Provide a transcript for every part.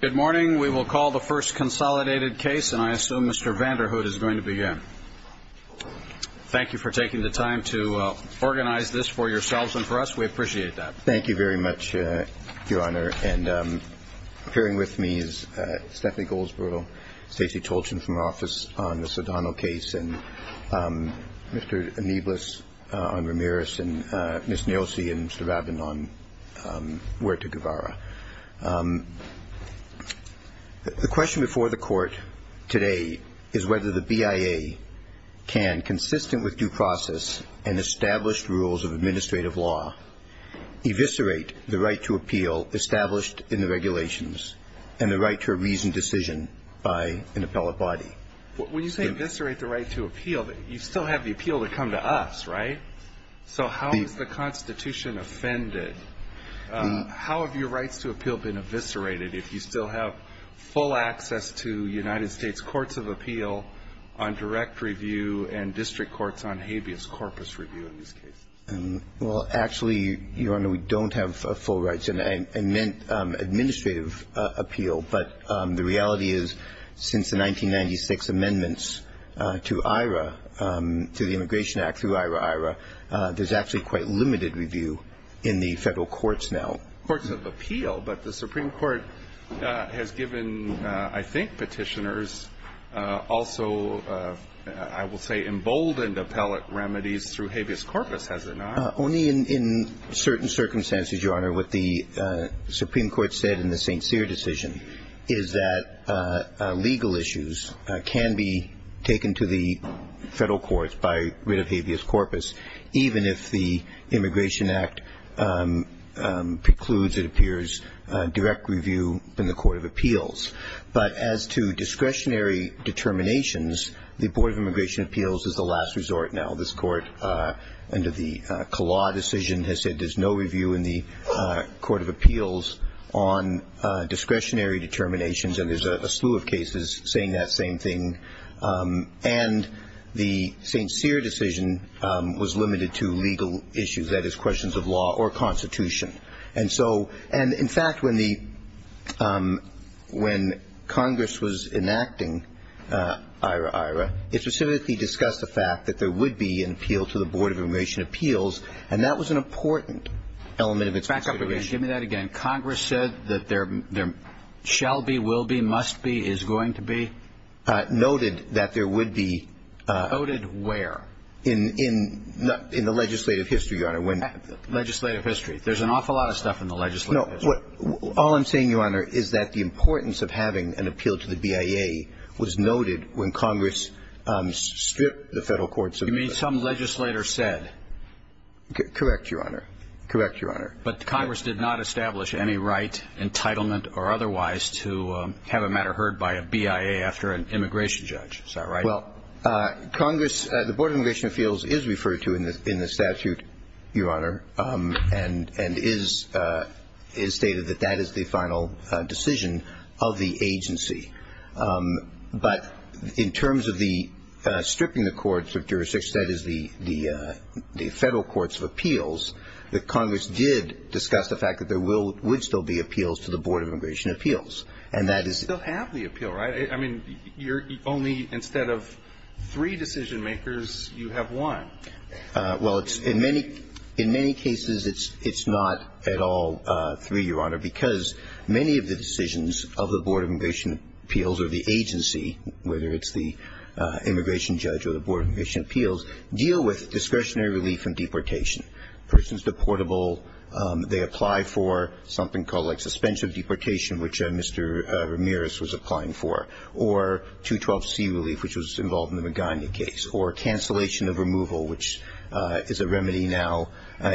Good morning. We will call the first consolidated case and I assume Mr. Vanderhood is going to begin. Thank you for taking the time to organize this for yourselves and for us. We appreciate that. Thank you very much, Your Honor. And appearing with me is Stephanie Goldsboro, Stacey Tolchin from our office on the Cedano case, and Mr. Amiglis on Ramirez, and Ms. Nelsey and Mr. Robin on Huerta-Guevara. The question before the Court today is whether the BIA can, consistent with due process and established rules of administrative law, eviscerate the right to appeal established in the regulations and the right to a reasoned decision by an appellate body. When you say eviscerate the right to appeal, you still have the appeal to come to us, right? So how is the Constitution offended? How have your rights to appeal been eviscerated if you still have full access to United States Courts of Appeal on direct review and district courts on habeas corpus review in this case? Well, actually, Your Honor, we don't have full rights in administrative appeal, but the reality is since the 1996 amendments to the Immigration Act through IRA, IRA, there's actually quite limited review in the federal courts now. Courts of Appeal, but the Supreme Court has given, I think, petitioners also, I will say, emboldened appellate remedies through habeas corpus, has it not? Only in certain circumstances, Your Honor. What the Supreme Court said in the St. Cyr decision is that legal issues can be taken to the federal courts by writ of habeas corpus, even if the Immigration Act precludes, it appears, direct review in the Court of Appeals. But as to discretionary determinations, the Board of Immigration Appeals is the last resort now. This Court, under the Kalaugh decision, has said there's no review in the Court of Appeals on discretionary determinations, and there's a slew of cases saying that same thing. And the St. Cyr decision was limited to legal issues, that is, questions of law or Constitution. And, in fact, when Congress was enacting IRA, IRA, it specifically discussed the fact that there would be an appeal to the Board of Immigration Appeals, and that was an important element of its consideration. Give me that again. Congress said that there shall be, will be, must be, is going to be? Noted that there would be. Noted where? In the legislative history, Your Honor. Legislative history. There's an awful lot of stuff in the legislative history. All I'm saying, Your Honor, is that the importance of having an appeal to the BIA was noted when Congress stripped the federal courts of this legislation. You mean some legislator said? Correct, Your Honor. Correct, Your Honor. But Congress did not establish any right, entitlement, or otherwise, to have a matter heard by a BIA after an immigration judge. Is that right? Well, Congress, the Board of Immigration Appeals is referred to in the statute, Your Honor, and is stated that that is the final decision of the agency. But in terms of stripping the courts of jurisdiction, that is the federal courts of appeals, Congress did discuss the fact that there would still be appeals to the Board of Immigration Appeals, and that is the appeal. You still have the appeal, right? I mean, you're only, instead of three decision makers, you have one. Well, in many cases, it's not at all three, Your Honor, because many of the decisions of the Board of Immigration Appeals or the agency, whether it's the immigration judge or the Board of Immigration Appeals, deal with discretionary relief from deportation. Persons deportable, they apply for something called, like, or 212C relief, which was involved in the Magana case, or cancellation of removal, which is a remedy now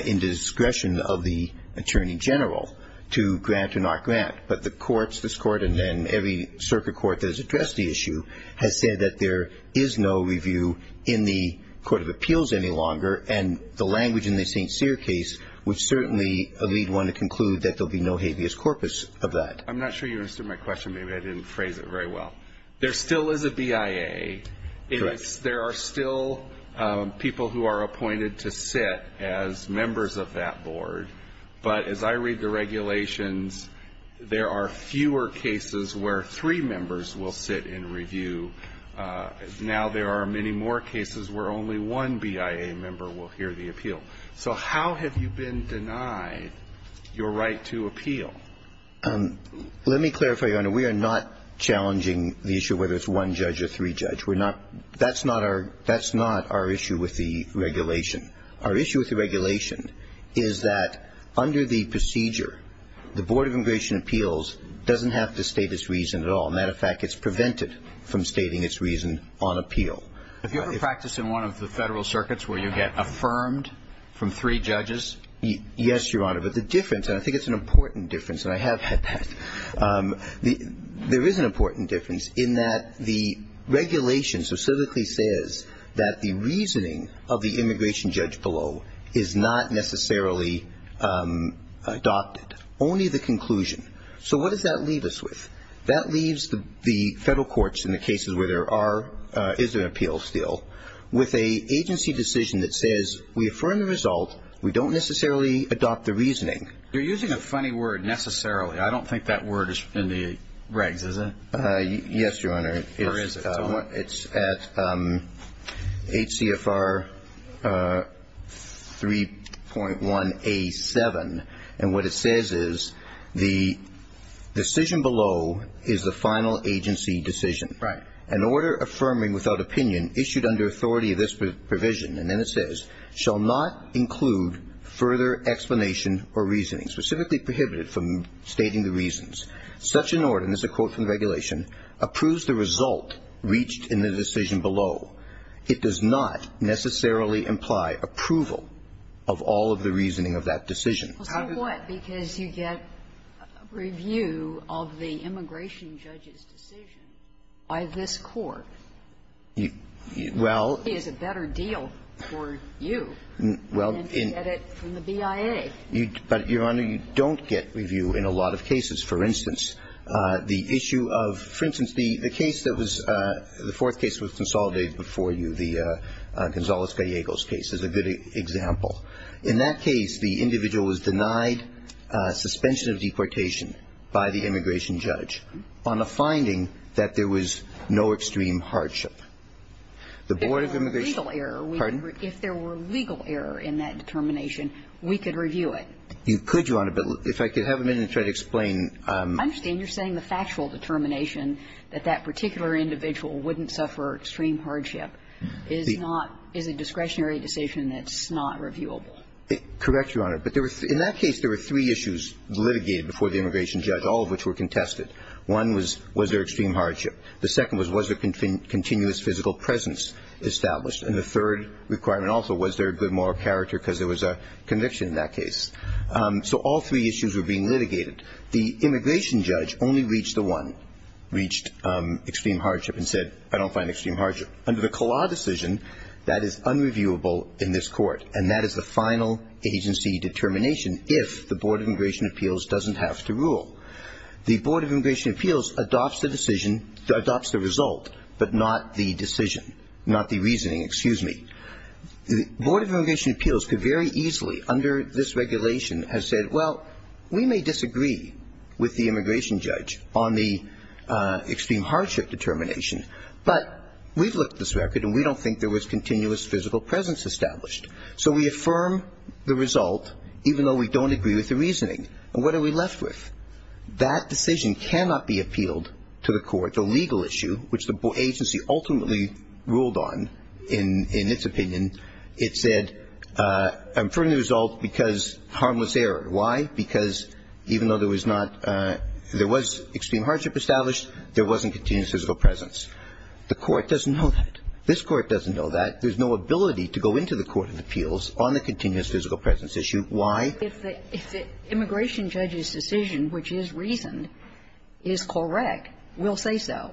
in discretion of the attorney general, to grant or not grant. But the courts, this court and then every circuit court that has addressed the issue, have said that there is no review in the Court of Appeals any longer, and the language in the St. Cyr case would certainly lead one to conclude that there will be no habeas corpus of that. I'm not sure you understood my question. Maybe I didn't phrase it very well. There still is a BIA. There are still people who are appointed to sit as members of that board. But as I read the regulations, there are fewer cases where three members will sit in review. Now there are many more cases where only one BIA member will hear the appeal. So how have you been denied your right to appeal? Let me clarify, Your Honor. We are not challenging the issue whether it's one judge or three judge. We're not. That's not our issue with the regulation. Our issue with the regulation is that under the procedure, the Board of Immigration Appeals doesn't have to state its reason at all. Matter of fact, it's prevented from stating its reason on appeal. Have you ever practiced in one of the federal circuits where you get affirmed from three judges? Yes, Your Honor. But the difference, and I think it's an important difference, and I have had that, there is an important difference in that the regulation specifically says that the reasoning of the immigration judge below is not necessarily adopted. Only the conclusion. So what does that leave us with? That leaves the federal courts in the cases where there is an appeal still with an agency decision that says we affirm the result. We don't necessarily adopt the reasoning. You're using a funny word, necessarily. I don't think that word is in the regs, is it? Yes, Your Honor. It's at HCFR 3.1A7. And what it says is the decision below is the final agency decision. Right. An order affirming without opinion issued under authority of this provision, and then it says, shall not include further explanation or reasoning, specifically prohibited from stating the reasons. Such an order, and this is a quote from the regulation, approves the result reached in the decision below. It does not necessarily imply approval of all of the reasoning of that decision. How come? Because you get review of the immigration judge's decision by this court. Well. It's a better deal for you than to get it from the BIA. But, Your Honor, you don't get review in a lot of cases. For instance, the issue of, for instance, the case that was, the fourth case that was consolidated before you, the Gonzales-Gallegos case, is a good example. In that case, the individual was denied suspension of deportation by the immigration judge on the finding that there was no extreme hardship. If there were legal error in that determination, we could review it. You could, Your Honor, but if I could have a minute to try to explain. I understand you're saying the factual determination that that particular individual wouldn't suffer extreme hardship is a discretionary decision that's not reviewable. Correct, Your Honor. But in that case, there were three issues litigated before the immigration judge, all of which were contested. One was, was there extreme hardship? The second was, was there continuous physical presence established? And the third requirement also, was there good moral character, because there was a conviction in that case. So all three issues were being litigated. The immigration judge only reached the one, reached extreme hardship, and said, I don't find extreme hardship. Under the Kala decision, that is unreviewable in this court, and that is the final agency determination, if the Board of Immigration Appeals doesn't have to rule. The Board of Immigration Appeals adopts the decision, adopts the result, but not the decision, not the reasoning, excuse me. The Board of Immigration Appeals could very easily, under this regulation, have said, well, we may disagree with the immigration judge on the extreme hardship determination, but we've looked at this record, and we don't think there was continuous physical presence established. So we affirm the result, even though we don't agree with the reasoning. And what are we left with? That decision cannot be appealed to the court. The legal issue, which the agency ultimately ruled on, in its opinion, it said, I'm putting the result because harmless error. Why? Because even though there was not, there was extreme hardship established, there wasn't continuous physical presence. The court doesn't know that. This court doesn't know that. There's no ability to go into the Court of Appeals on the continuous physical presence issue. Why? If the immigration judge's decision, which is reasoned, is correct, we'll say so.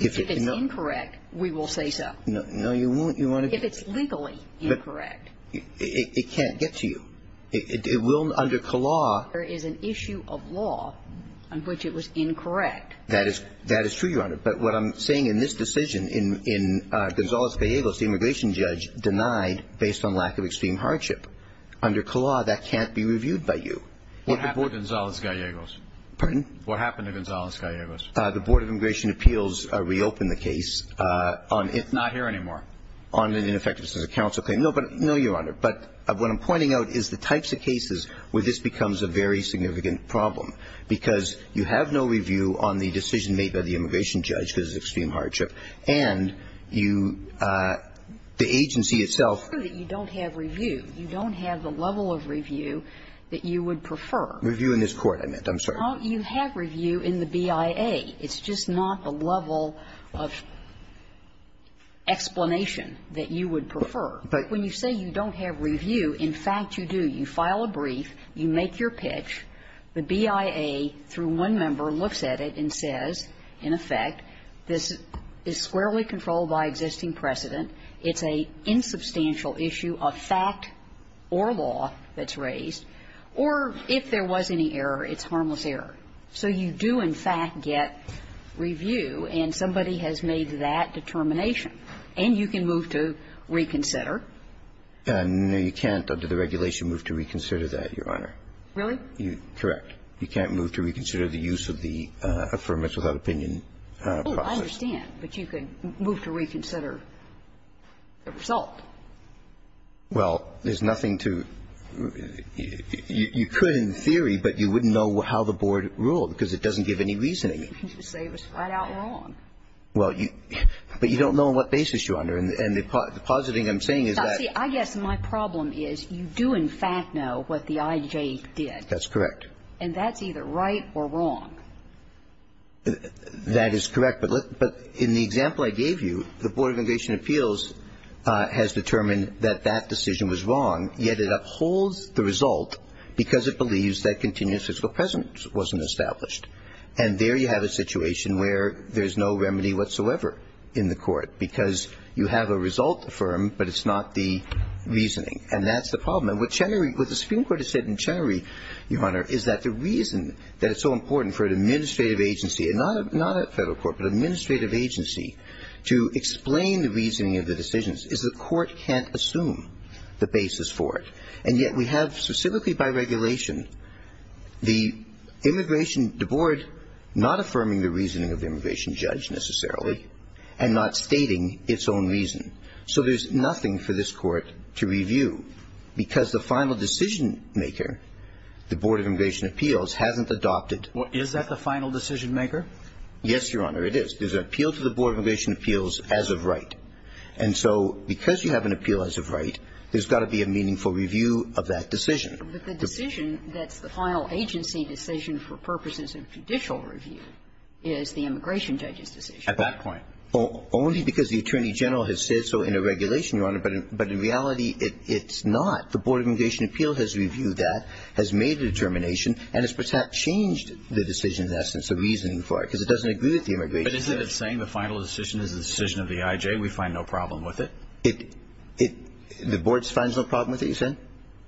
If it's incorrect, we will say so. No, you won't. If it's legally incorrect. It can't get to you. It will under the law. There is an issue of law on which it was incorrect. That is true, Your Honor. But what I'm saying in this decision, in Gonzales-Gallegos, the immigration judge denied based on lack of extreme hardship. Under CAW, that can't be reviewed by you. What happened to Gonzales-Gallegos? Pardon? What happened to Gonzales-Gallegos? The Board of Immigration Appeals reopened the case. It's not here anymore? On an ineffectiveness of the counsel claim. No, Your Honor. But what I'm pointing out is the types of cases where this becomes a very significant problem because you have no review on the decision made by the immigration judge because of extreme hardship and the agency itself. You don't have review. You don't have the level of review that you would prefer. Review in this court, I meant. I'm sorry. You have review in the BIA. It's just not the level of explanation that you would prefer. When you say you don't have review, in fact you do. You file a brief. You make your pitch. The BIA, through one member, looks at it and says, in effect, this is squarely controlled by existing precedent. It's an insubstantial issue of fact or law that's raised. Or if there was any error, it's harmless error. So you do, in fact, get review, and somebody has made that determination. And you can move to reconsider. No, you can't, under the regulation, move to reconsider that, Your Honor. Really? Correct. You can't move to reconsider the use of the Affirmative Without Opinion process. Oh, I understand. But you could move to reconsider the result. Well, there's nothing to do. You could in theory, but you wouldn't know how the board ruled because it doesn't give any reasoning. It seems to say it was spread out wrong. But you don't know on what basis, Your Honor. And the positive thing I'm saying is that you do, in fact, know what the IJ did. That's correct. And that's either right or wrong. That is correct. But in the example I gave you, the Board of Investigation and Appeals has determined that that decision was wrong, yet it upholds the result because it believes that continuous fiscal precedent wasn't established. And there you have a situation where there's no remedy whatsoever in the court because you have a result affirmed, but it's not the reasoning. And that's the problem. What the Supreme Court has said in Chenery, Your Honor, is that the reason that it's so important for an administrative agency, and not a federal court, but an administrative agency, to explain the reasoning of the decisions is the court can't assume the basis for it. And yet we have, specifically by regulation, the board not affirming the reasoning of the immigration judge necessarily and not stating its own reason. So there's nothing for this court to review because the final decision-maker, the Board of Immigration and Appeals, hasn't adopted... Well, is that the final decision-maker? Yes, Your Honor, it is. There's an appeal to the Board of Immigration and Appeals as of right. And so because you have an appeal as of right, there's got to be a meaningful review of that decision. But the decision, the final agency decision for purposes of judicial review, is the immigration judge's decision. At that point. Only because the Attorney General has said so in a regulation, Your Honor, but in reality it's not. The Board of Immigration and Appeals has reviewed that, has made the determination, and has perhaps changed the decision in essence, the reasoning for it, because it doesn't agree with the immigration judge. But isn't it saying the final decision is the decision of the IJ, we find no problem with it? The Board finds no problem with it, you said?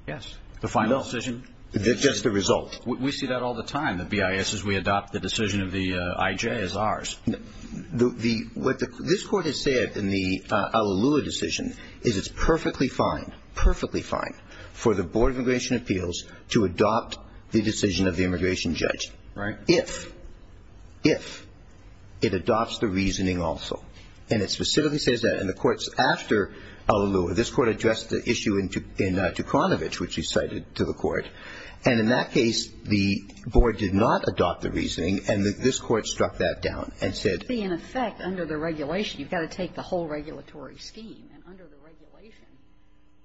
Yes. The final decision... That's the result. We see that all the time. The BIS says we adopt the decision of the IJ as ours. What this court has said in the Alalua decision is it's perfectly fine, perfectly fine, for the Board of Immigration and Appeals to adopt the decision of the immigration judge. Right. If, if, it adopts the reasoning also. And it specifically says that. And the court's after Alalua. This court addressed the issue in Dukranowicz, which you cited to the court. And in that case, the board did not adopt the reasoning, and this court struck that down and said... You see, in effect, under the regulation, you've got to take the whole regulatory scheme. And under the regulation,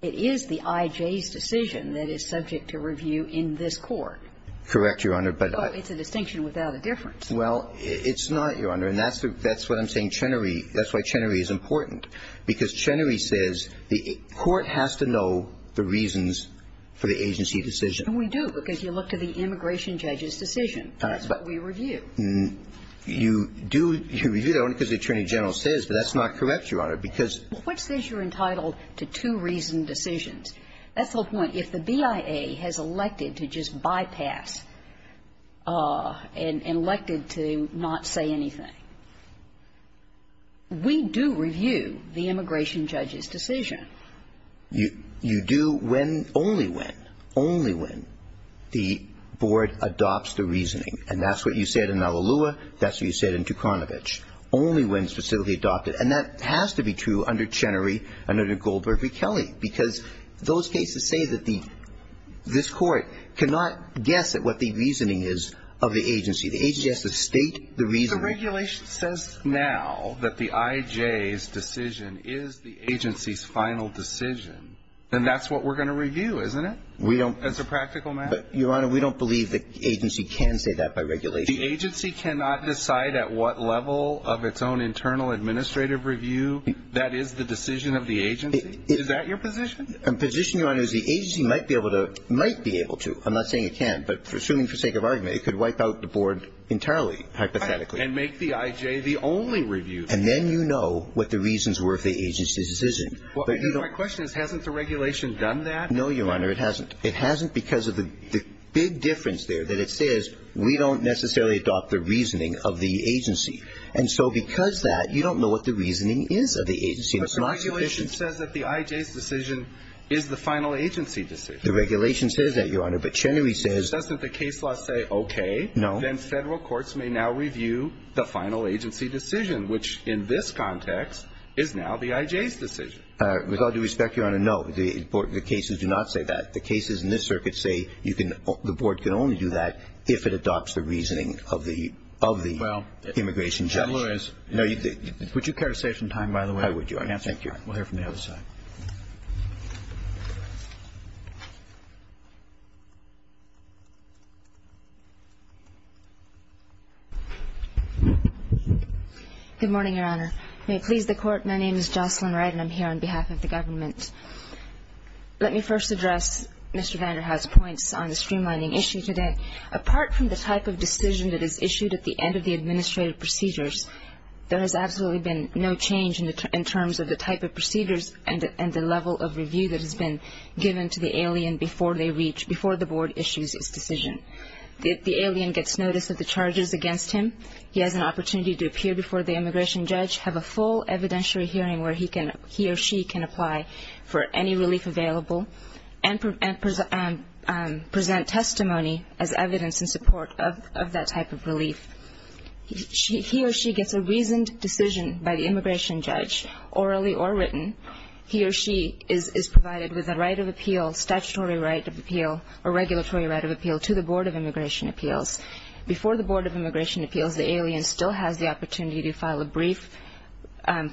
it is the IJ's decision that is subject to review in this court. Correct, Your Honor, but... So it's a distinction without a difference. Well, it's not, Your Honor. And that's what I'm saying Chenery, that's why Chenery is important. Because Chenery says the court has to know the reasons for the agency decision. And we do, because you look to the immigration judge's decision. That's what we review. You do, you review that one because the Attorney General says, but that's not correct, Your Honor, because... What says you're entitled to two reasoned decisions? That's the whole point. If the BIA has elected to just bypass, and elected to not say anything, we do review the immigration judge's decision. You do when, only when, only when the board adopts the reasoning. And that's what you said in Malalua. That's what you said in Tukanovic. Only when specifically adopted. And that has to be true under Chenery and under Goldberg v. Kelly. Because those cases say that this court cannot guess at what the reasoning is of the agency. The agency has to state the reason. If the regulation says now that the IJ's decision is the agency's final decision, then that's what we're going to review, isn't it? That's a practical matter? Your Honor, we don't believe the agency can say that by regulation. The agency cannot decide at what level of its own internal administrative review that is the decision of the agency? Is that your position? My position, Your Honor, is the agency might be able to, might be able to. I'm not saying it can't, but assuming for the sake of argument, it could wipe out the board entirely, hypothetically. And make the IJ the only review. And then you know what the reasons were for the agency's decision. My question is, hasn't the regulation done that? No, Your Honor, it hasn't. It hasn't because of the big difference there that it says we don't necessarily adopt the reasoning of the agency. And so because of that, you don't know what the reasoning is of the agency. It's not sufficient. But the regulation says that the IJ's decision is the final agency's decision. The regulation says that, Your Honor, but Chenery says that the case laws say okay. Then federal courts may now review the final agency decision, which in this context is now the IJ's decision. With all due respect, Your Honor, no. The cases do not say that. The cases in this circuit say the board can only do that if it adopts the reasoning of the immigration judge. Would you care to say some time, by the way? I would, Your Honor. Okay, thank you. We'll hear from the other side. Good morning, Your Honor. May it please the Court, my name is Jocelyn Wright and I'm here on behalf of the government. Let me first address Mr. Vanderhaar's points on the streamlining issue today. Apart from the type of decision that is issued at the end of the administrative procedures, there has absolutely been no change in terms of the type of procedures and the level of review that has been given to the alien before the board issues its decision. If the alien gets notice of the charges against him, he has an opportunity to appear before the immigration judge, have a full evidentiary hearing where he or she can apply for any relief available, and present testimony as evidence in support of that type of relief. He or she gets a reasoned decision by the immigration judge, orally or written. He or she is provided with a right of appeal, statutory right of appeal, or regulatory right of appeal to the Board of Immigration Appeals. Before the Board of Immigration Appeals, the alien still has the opportunity to file a brief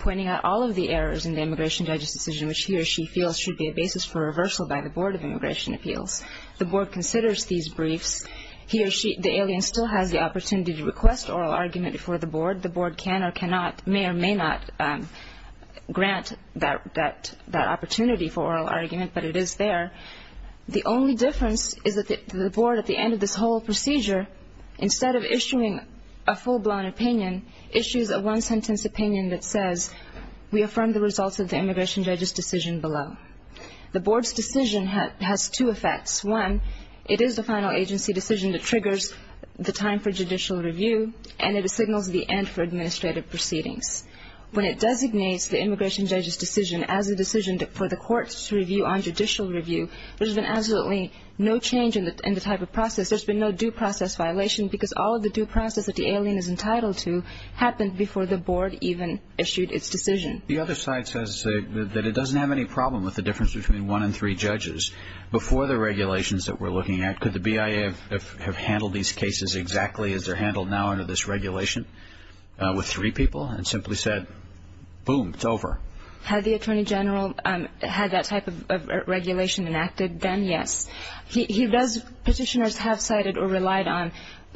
pointing out all of the errors in the immigration judge's decision, which he or she feels should be a basis for reversal by the Board of Immigration Appeals. The board considers these briefs. He or she, the alien still has the opportunity to request oral argument before the board. The board can or cannot, may or may not, grant that opportunity for oral argument, but it is there. The only difference is that the board, at the end of this whole procedure, instead of issuing a full-blown opinion, issues a one-sentence opinion that says, we affirm the results of the immigration judge's decision below. The board's decision has two effects. One, it is the final agency decision that triggers the time for judicial review, and it signals the end for administrative proceedings. When it designates the immigration judge's decision as a decision for the courts to review on judicial review, there's been absolutely no change in the type of process. There's been no due process violation, because all of the due process that the alien is entitled to happened before the board even issued its decision. The other side says that it doesn't have any problem with the difference between one and three judges. Before the regulations that we're looking at, could the BIA have handled these cases exactly as they're handled now under this regulation, with three people, and simply said, boom, it's over? Had the attorney general had that type of regulation enacted, then yes. Petitioners have cited or relied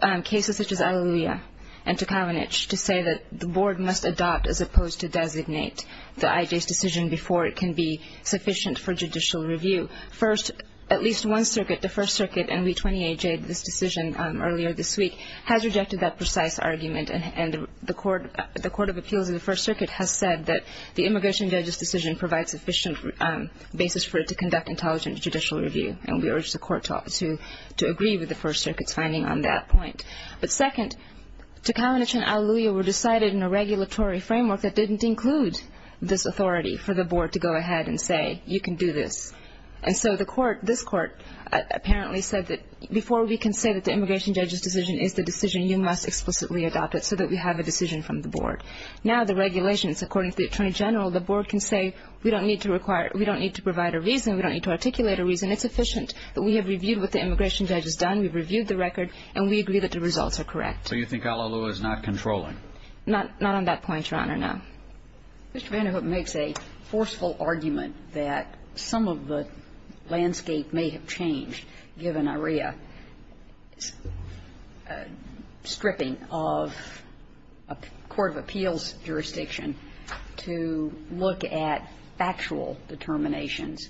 on cases such as Alleluia and Tukalanich to say that the board must adopt as opposed to designate the IJ's decision before it can be sufficient for judicial review. First, at least one circuit, the First Circuit, and we 28J'd this decision earlier this week, has rejected that precise argument, and the Court of Appeals of the First Circuit has said that the immigration judge's decision provides sufficient basis for it to conduct intelligent judicial review, and we urge the court to agree with the First Circuit's finding on that point. But second, Tukalanich and Alleluia were decided in a regulatory framework that didn't include this authority for the board to go ahead and say, you can do this. And so this court apparently said that before we can say that the immigration judge's decision is the decision, you must explicitly adopt it so that we have a decision from the board. Now the regulations, according to the attorney general, the board can say, we don't need to provide a reason, we don't need to articulate a reason. It's sufficient that we have reviewed what the immigration judge has done, we've reviewed the record, and we agree that the results are correct. So you think Alleluia is not controlling? Not on that point, Your Honor, no. Mr. Vanderhoof makes a forceful argument that some of the landscape may have changed, given Alleluia's stripping of a court of appeals jurisdiction, to look at actual determinations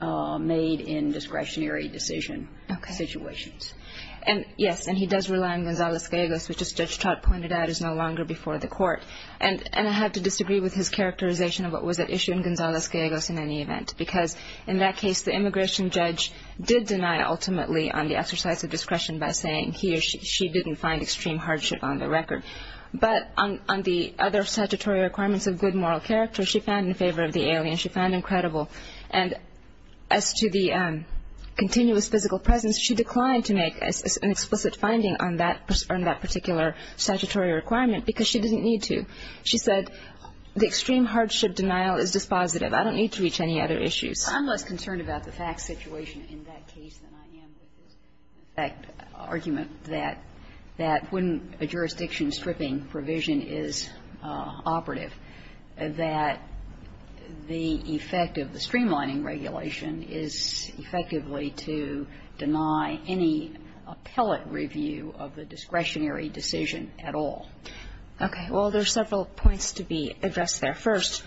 made in discretionary decision situations. Okay. Yes, and he does rely on Gonzales-Guegos, which as Judge Trott pointed out, is no longer before the court. And I have to disagree with his characterization of what was at issue in Gonzales-Guegos in any event, because in that case the immigration judge did deny ultimately on the exercise of discretion by saying he or she didn't find extreme hardship on the record. But on the other statutory requirements of good moral character, she found in favor of the alien, she found him credible. And as to the continuous physical presence, she declined to make an explicit finding on that particular statutory requirement because she didn't need to. She said the extreme hardship denial is dispositive. I don't need to reach any other issues. I'm less concerned about the fact situation in that case than I am with the fact argument that when a jurisdiction stripping provision is operative, that the effect of the streamlining regulation is effectively to deny any appellate review of the discretionary decision at all. Okay. Well, there's several points to be addressed there. First,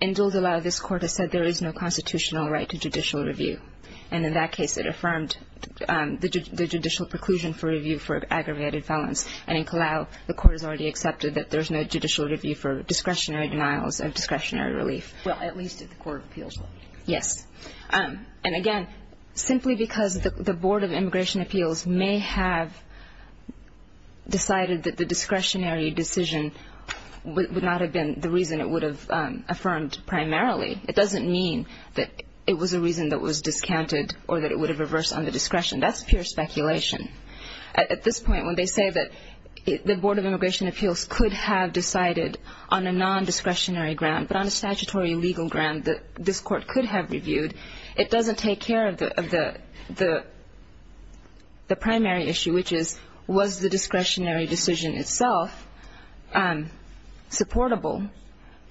in Gildelau, this court has said there is no constitutional right to judicial review. And in that case, it affirmed the judicial preclusion for review for aggravated violence. And in Gildelau, the court has already accepted that there's no judicial review for discretionary denials and discretionary relief. Well, at least at the court of appeals. Yes. And again, simply because the Board of Immigration Appeals may have decided that the discretionary decision would not have been the reason it would have affirmed primarily, it doesn't mean that it was a reason that was discounted or that it would have reversed on the discretion. That's pure speculation. At this point, when they say that the Board of Immigration Appeals could have decided on a non-discretionary ground, but on a statutory legal ground that this court could have reviewed, it doesn't take care of the primary issue, which is was the discretionary decision itself supportable,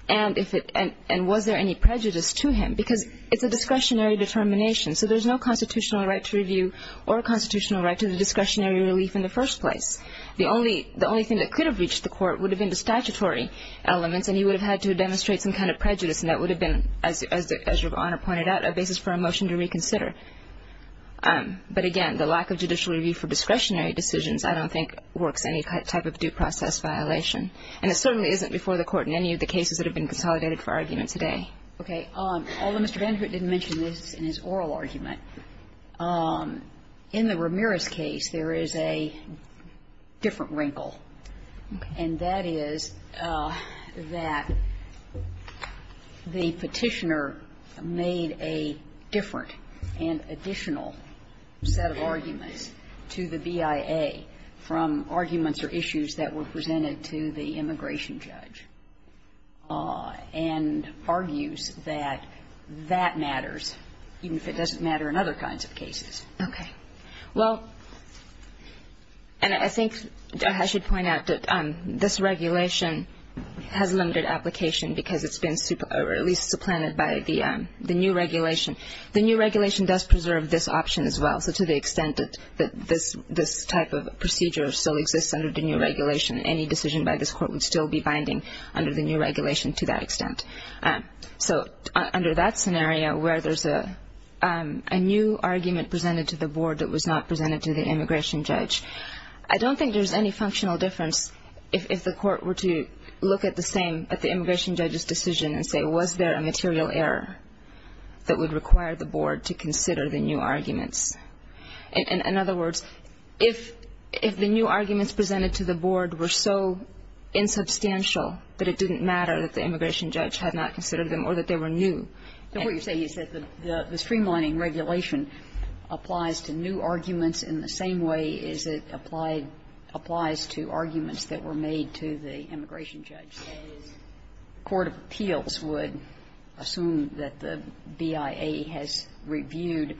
and was there any prejudice to him because it's a discretionary determination. So there's no constitutional right to review or a constitutional right to the discretionary relief in the first place. The only thing that could have reached the court would have been the statutory elements, and he would have had to demonstrate some kind of prejudice, and that would have been, as Your Honor pointed out, a basis for a motion to reconsider. But again, the lack of judicial review for discretionary decisions I don't think works any type of due process violation. And it certainly isn't before the court in any of the cases that have been consolidated for argument today. Okay. Although Mr. Danforth didn't mention this in his oral argument, in the Ramirez case there is a different wrinkle, and that is that the petitioner made a different and additional set of arguments to the BIA from arguments or issues that were presented to the immigration judge, and argues that that matters even if it doesn't matter in other kinds of cases. Okay. Well, and I think I should point out that this regulation has limited application because it's been at least supplanted by the new regulation. The new regulation does preserve this option as well. So to the extent that this type of procedure still exists under the new regulation, any decision by this court would still be binding under the new regulation to that extent. So under that scenario where there's a new argument presented to the board that was not presented to the immigration judge, I don't think there's any functional difference if the court were to look at the same, at the immigration judge's decision and say, was there a material error that would require the board to consider the new arguments? In other words, if the new arguments presented to the board were so insubstantial that it didn't matter that the immigration judge had not considered them or that they were new. What you're saying is that the streamlining regulation applies to new arguments in the same way as it applies to arguments that were made to the immigration judge. The court of appeals would assume that the BIA has reviewed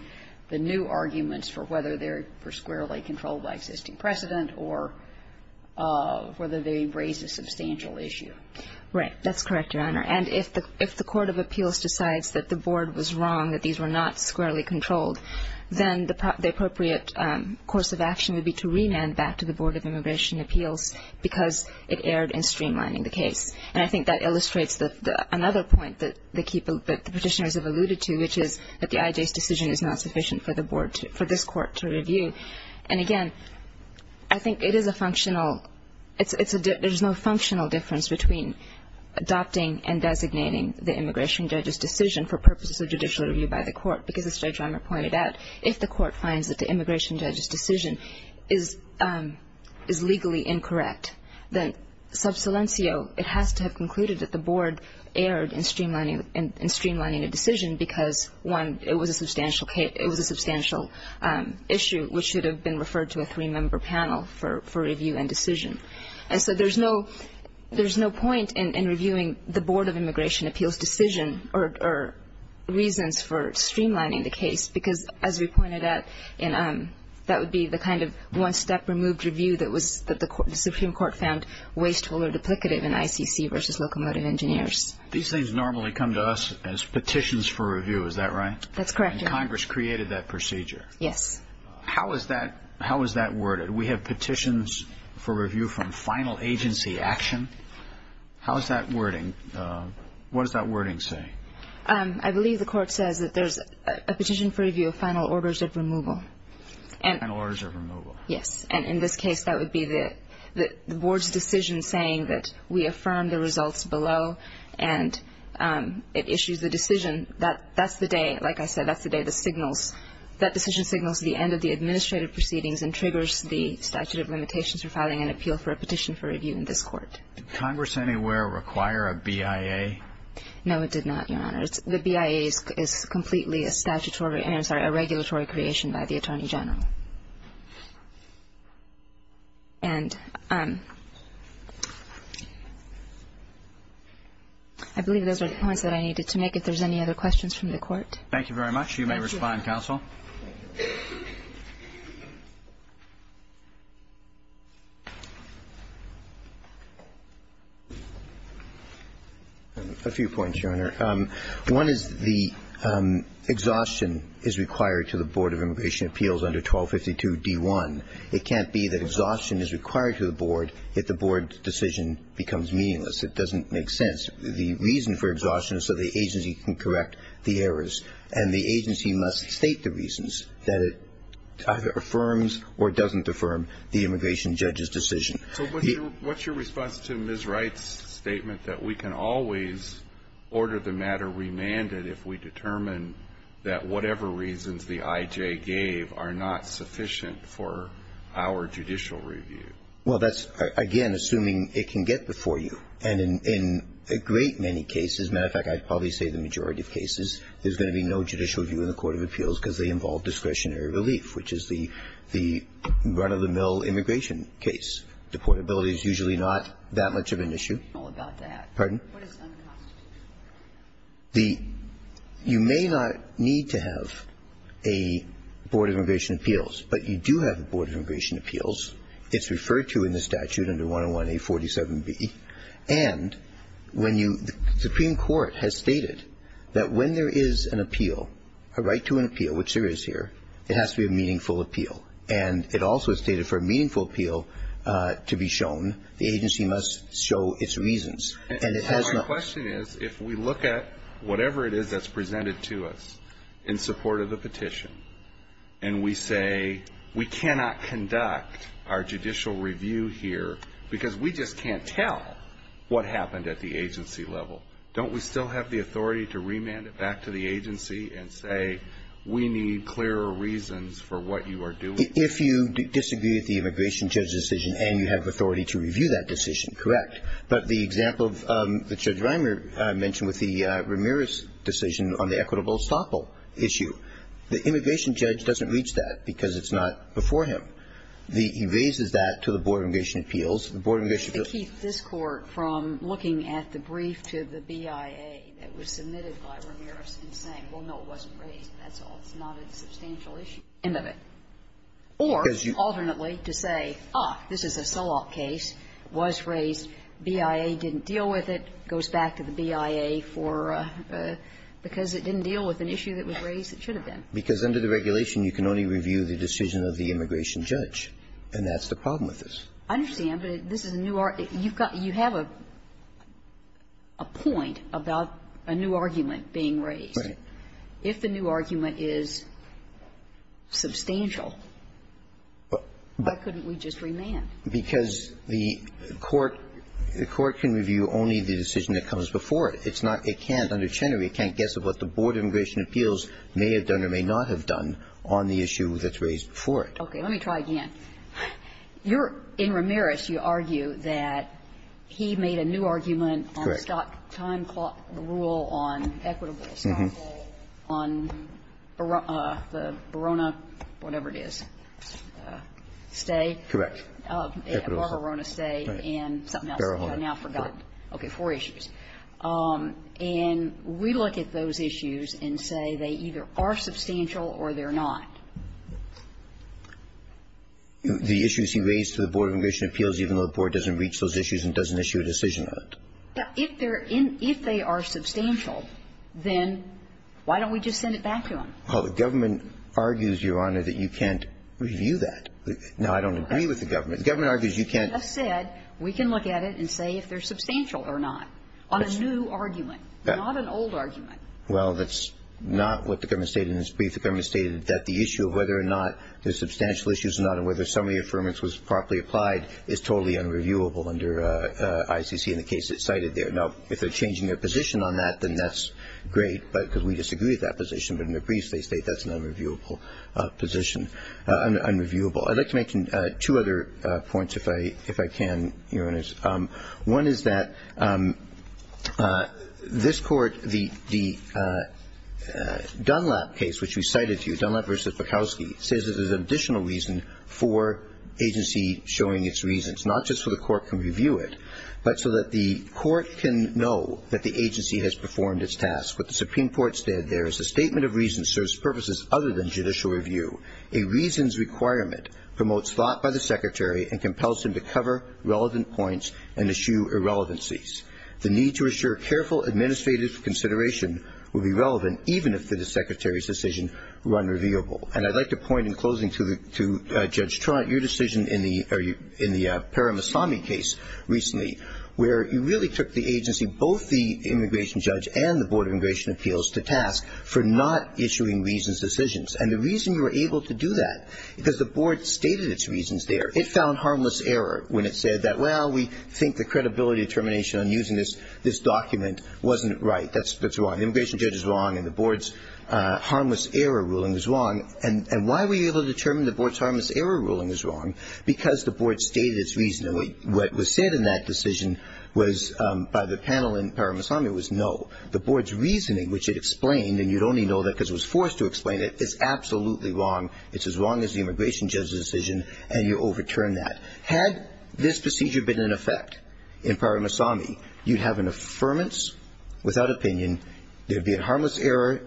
the new arguments for whether they were squarely controlled by existing precedent or whether they raise a substantial issue. Right. That's correct, Your Honor. And if the court of appeals decides that the board was wrong, that these were not squarely controlled, then the appropriate course of action would be to remand that to the board of immigration appeals because it erred in streamlining the case. And I think that illustrates another point that the petitioners have alluded to, which is that the IJ's decision is not sufficient for this court to review. And again, I think there's no functional difference between adopting and designating the immigration judge's decision for purposes of judicial review by the court. Because as Judge Romer pointed out, if the court finds that the immigration judge's decision is legally incorrect, then sub silencio, it has to have concluded that the board erred in streamlining the decision because, one, it was a substantial issue which should have been referred to a three-member panel for review and decision. And so there's no point in reviewing the board of immigration appeals' decision or reasons for streamlining the case because, as we pointed out, that would be the kind of one-step removed review that the Supreme Court found wasteful or duplicative in ICC versus locomotive engineers. These things normally come to us as petitions for review. Is that right? That's correct, Your Honor. And Congress created that procedure. Yes. How is that worded? We have petitions for review from final agency action. How is that wording? What does that wording say? I believe the court says that there's a petition for review of final orders of removal. Final orders of removal. Yes. And in this case, that would be the board's decision saying that we affirm the results below. And it issues a decision. That's the day, like I said, that's the day that signals. It signals the end of the administrative proceedings and triggers the statute of limitations for filing an appeal for a petition for review in this court. Did Congress anywhere require a BIA? No, it did not, Your Honor. The BIA is completely a regulatory creation by the Attorney General. And I believe those are the points that I needed to make. If there's any other questions from the court. Thank you very much. You may respond, counsel. A few points, Your Honor. One is the exhaustion is required to the Board of Immigration Appeals under 1252 D1. It can't be that exhaustion is required to the board if the board's decision becomes meaningless. It doesn't make sense. The reason for exhaustion is so the agency can correct the errors. And the agency must state the reasons that it either affirms or doesn't affirm the immigration judge's decision. What's your response to Ms. Wright's statement that we can always order the matter remanded if we determine that whatever reasons the IJ gave are not sufficient for our judicial review? Well, that's, again, assuming it can get before you. And in a great many cases, as a matter of fact, I'd probably say the majority of cases, there's going to be no judicial review in the Court of Appeals because they involve discretionary relief, which is the run-of-the-mill immigration case. Deportability is usually not that much of an issue. Pardon? You may not need to have a Board of Immigration Appeals, but you do have a Board of Immigration Appeals. It's referred to in the statute under 101A47B. And the Supreme Court has stated that when there is an appeal, a right to an appeal, which there is here, it has to be a meaningful appeal. And it also stated for a meaningful appeal to be shown, the agency must show its reasons. And it has not. My question is if we look at whatever it is that's presented to us in support of the petition and we say we cannot conduct our judicial review here because we just can't tell what happened at the agency level, don't we still have the authority to remand it back to the agency and say we need clearer reasons for what you are doing? If you disagree with the immigration judge's decision and you have authority to review that decision, correct. But the example that Judge Reimer mentioned with the Ramirez decision on the equitable estoppel issue, the immigration judge doesn't reach that because it's not before him. He raises that to the Board of Immigration Appeals. The Board of Immigration Appeals... To keep this court from looking at the brief to the BIA that was submitted by Ramirez and saying, well, no, it wasn't raised. That's not a substantial issue. End of it. Or, alternately, to say, ah, this is a SOLOC case. It was raised. BIA didn't deal with it. It goes back to the BIA for, because it didn't deal with an issue that was raised, it should have been. Because under the regulation, you can only review the decision of the immigration judge. And that's the problem with this. I understand, but this is a new argument. You have a point about a new argument being raised. Right. If the new argument is substantial, why couldn't we just remand? Because the court can review only the decision that comes before it. It's not, it can't, under Chenery, it can't guess at what the Board of Immigration Appeals may have done or may not have done on the issue that's raised before it. Okay. Let me try again. You're, in Ramirez, you argue that he made a new argument on time clock rule on equitables. Mm-hmm. On the Verona, whatever it is, stay. Correct. On Verona, stay, and something else. Okay, four issues. And we look at those issues and say they either are substantial or they're not. The issues he raised to the Board of Immigration Appeals, even though the Board doesn't reach those issues and doesn't issue a decision on it. If they are substantial, then why don't we just send it back to him? Well, the government argues, Your Honor, that you can't review that. No, I don't agree with the government. The government argues you can't. He just said we can look at it and say if they're substantial or not on a new argument, not an old argument. Well, that's not what the government stated in his brief. The government stated that the issue of whether or not they're substantial issues or not and whether some of the affirmance was properly applied is totally unreviewable under ICC and the case that's cited there. Now, if they're changing their position on that, then that's great because we disagree with that position, but in their briefs they state that's an unreviewable position. Let's make two other points, if I can, Your Honors. One is that this court, the Dunlap case, which we cited to you, Dunlap v. Bukowski, says that there's an additional reason for agency showing its reasons, not just so the court can review it, but so that the court can know that the agency has performed its task. What the Supreme Court said there is the statement of reason serves purposes other than judicial review. A reason's requirement promotes thought by the Secretary and compels him to cover relevant points and issue irrelevancies. The need to assure careful administrative consideration will be relevant even if the Secretary's decision were unreviewable. And I'd like to point in closing to Judge Tronick, your decision in the Paramaswamy case recently, where you really took the agency, both the immigration judge and the Board of Immigration Appeals, to task for not issuing reasons decisions. And the reason you were able to do that is because the Board stated its reasons there. It found harmless error when it said that, well, we think the credibility determination on using this document wasn't right. That's wrong. The immigration judge is wrong and the Board's harmless error ruling is wrong. And why were you able to determine the Board's harmless error ruling was wrong? Because the Board stated its reasoning. What was said in that decision was, by the panel in Paramaswamy, was no. The Board's reasoning, which it explained, and you'd only know that because it was forced to explain it, is absolutely wrong. It's as wrong as the immigration judge's decision, and you overturned that. Had this decision been in effect in Paramaswamy, you'd have an affirmance without opinion. There'd be a harmless error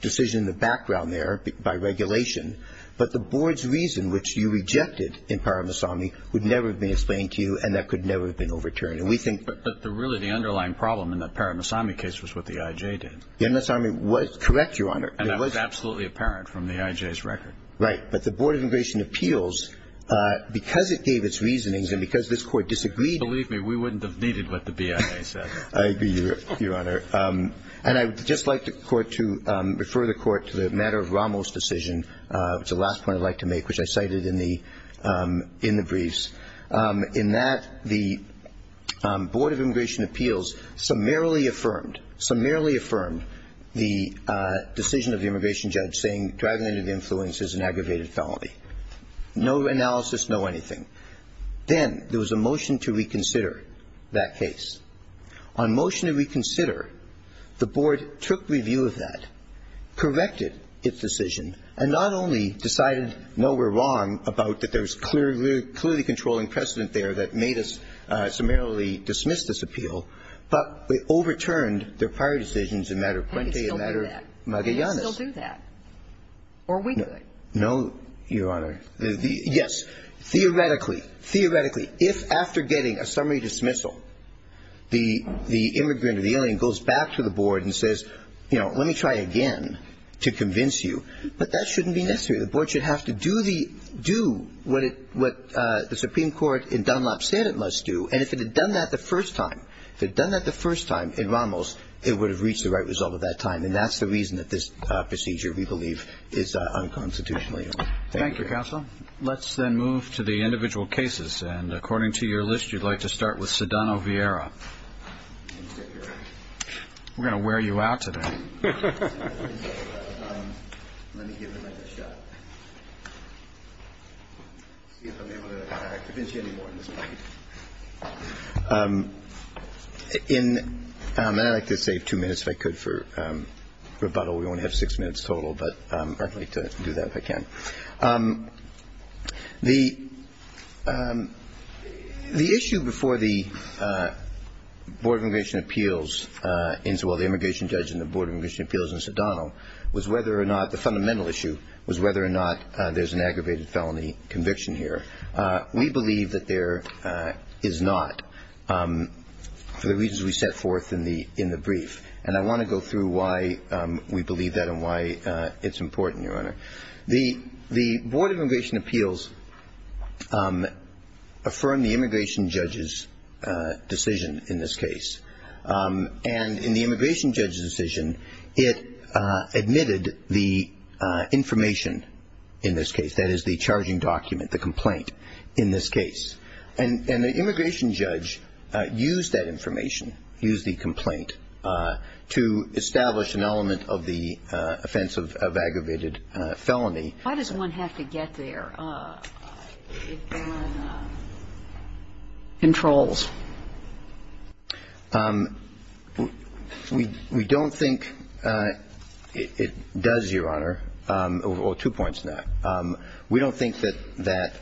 decision in the background there by regulation. But the Board's reason, which you rejected in Paramaswamy, would never have been explained to you, and that could never have been overturned. But really the underlying problem in the Paramaswamy case was what the IJ did. Paramaswamy was correct, Your Honor. And that was absolutely apparent from the IJ's record. Right. But the Board of Immigration Appeals, because it gave its reasonings and because this Court disagreed. Believe me, we wouldn't have needed what the BIA said. I agree, Your Honor. And I'd just like the Court to refer the Court to the matter of Ramos' decision, which is the last point I'd like to make, which I cited in the briefs. In that, the Board of Immigration Appeals summarily affirmed, summarily affirmed the decision of the immigration judge saying, dragnet of influence is an aggravated felony. No analysis, no anything. Then there was a motion to reconsider that case. On motion to reconsider, the Board took review of that, corrected its decision, and not only decided, no, we're wrong about that there's clearly controlling precedent there that made us summarily dismiss this appeal, but it overturned their prior decisions in matter of prente, in matter of magallanes. They'll do that. Or we do it. No, Your Honor. Yes. Theoretically, theoretically, if after getting a summary dismissal, the immigrant or the alien goes back to the Board and says, you know, let me try again to convince you, but that shouldn't be necessary. The Board should have to do what the Supreme Court in Dunlop said it must do, and if it had done that the first time, if it had done that the first time in Ramos, it would have reached the right result at that time, and that's the reason that this procedure, we believe, is unconstitutionally illegal. Thank you, counsel. Let's then move to the individual cases, and according to your list you'd like to start with Sedano-Vieira. We're going to wear you out today. In America, take two minutes if I could for rebuttal. We won't have six minutes total, but I'd like to do that if I can. The issue before the Board of Immigration Appeals, the immigration judge in the Board of Immigration Appeals in Sedano, was whether or not the fundamental issue was whether or not there's an aggravated felony conviction here. We believe that there is not for the reasons we set forth in the brief, and I want to go through why we believe that and why it's important, Your Honor. The Board of Immigration Appeals affirmed the immigration judge's decision in this case, and in the immigration judge's decision it admitted the information in this case, that is the charging document, the complaint in this case, and the immigration judge used that information, used the complaint, to establish an element of the offense of aggravated felony. Why does one have to get there? Controls. We don't think it does, Your Honor, or two points to that. We don't think that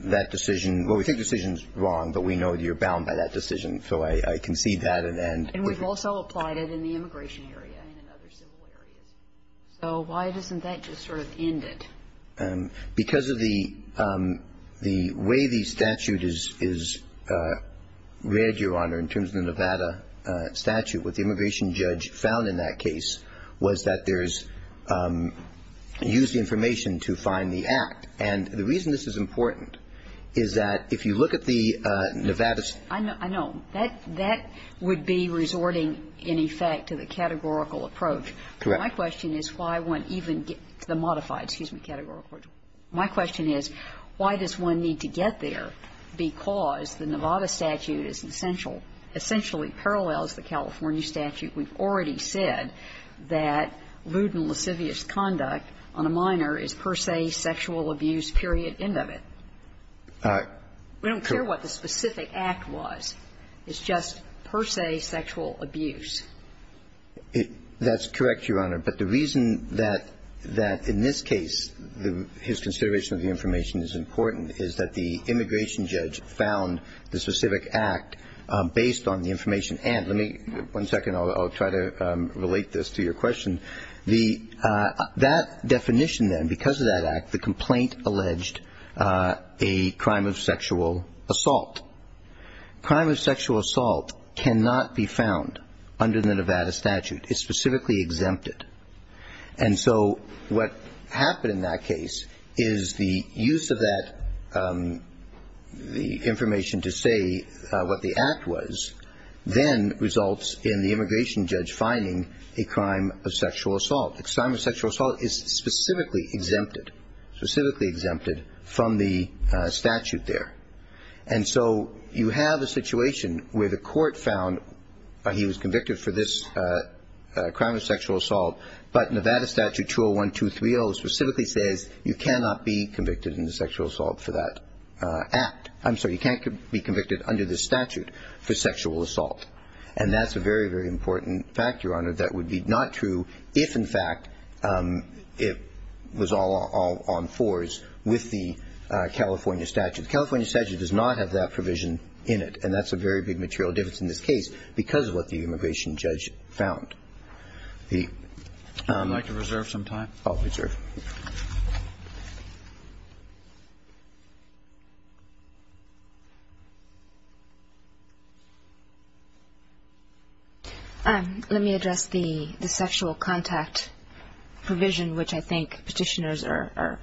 that decision, well, we think the decision's wrong, but we know that you're bound by that decision, so I concede that. And we've also applied it in the immigration area and in other civil areas. So why isn't that to sort of end it? Because of the way the statute is read, Your Honor, in terms of the Nevada statute, what the immigration judge found in that case was that there's used information to find the act. And the reason this is important is that if you look at the Nevada statute. I know. That would be resorting, in effect, to the categorical approach. Correct. My question is why one even gets the modified, excuse me, categorical approach. My question is why does one need to get there because the Nevada statute is essentially parallel to the California statute. We've already said that rude and lascivious conduct on a minor is per se sexual abuse, period, end of it. We don't care what the specific act was. It's just per se sexual abuse. That's correct, Your Honor. But the reason that in this case his consideration of the information is important is that the immigration judge found the specific act based on the information. And let me, one second, I'll try to relate this to your question. That definition then, because of that act, the complaint alleged a crime of sexual assault. Crime of sexual assault cannot be found under the Nevada statute. It's specifically exempted. And so what happened in that case is the use of that information to say what the act was, then results in the immigration judge finding a crime of sexual assault. Crime of sexual assault is specifically exempted, specifically exempted from the statute there. And so you have a situation where the court found he was convicted for this crime of sexual assault, but Nevada statute 201-230 specifically says you cannot be convicted in sexual assault for that act. I'm sorry, you can't be convicted under this statute for sexual assault. And that's a very, very important factor, Your Honor, that would be not true if, in fact, it was all on force with the California statute. The California statute does not have that provision in it, and that's a very big material difference in this case because of what the immigration judge found. I'd like to reserve some time. I'll be sure. Let me address the sexual contact provision, which I think petitioners are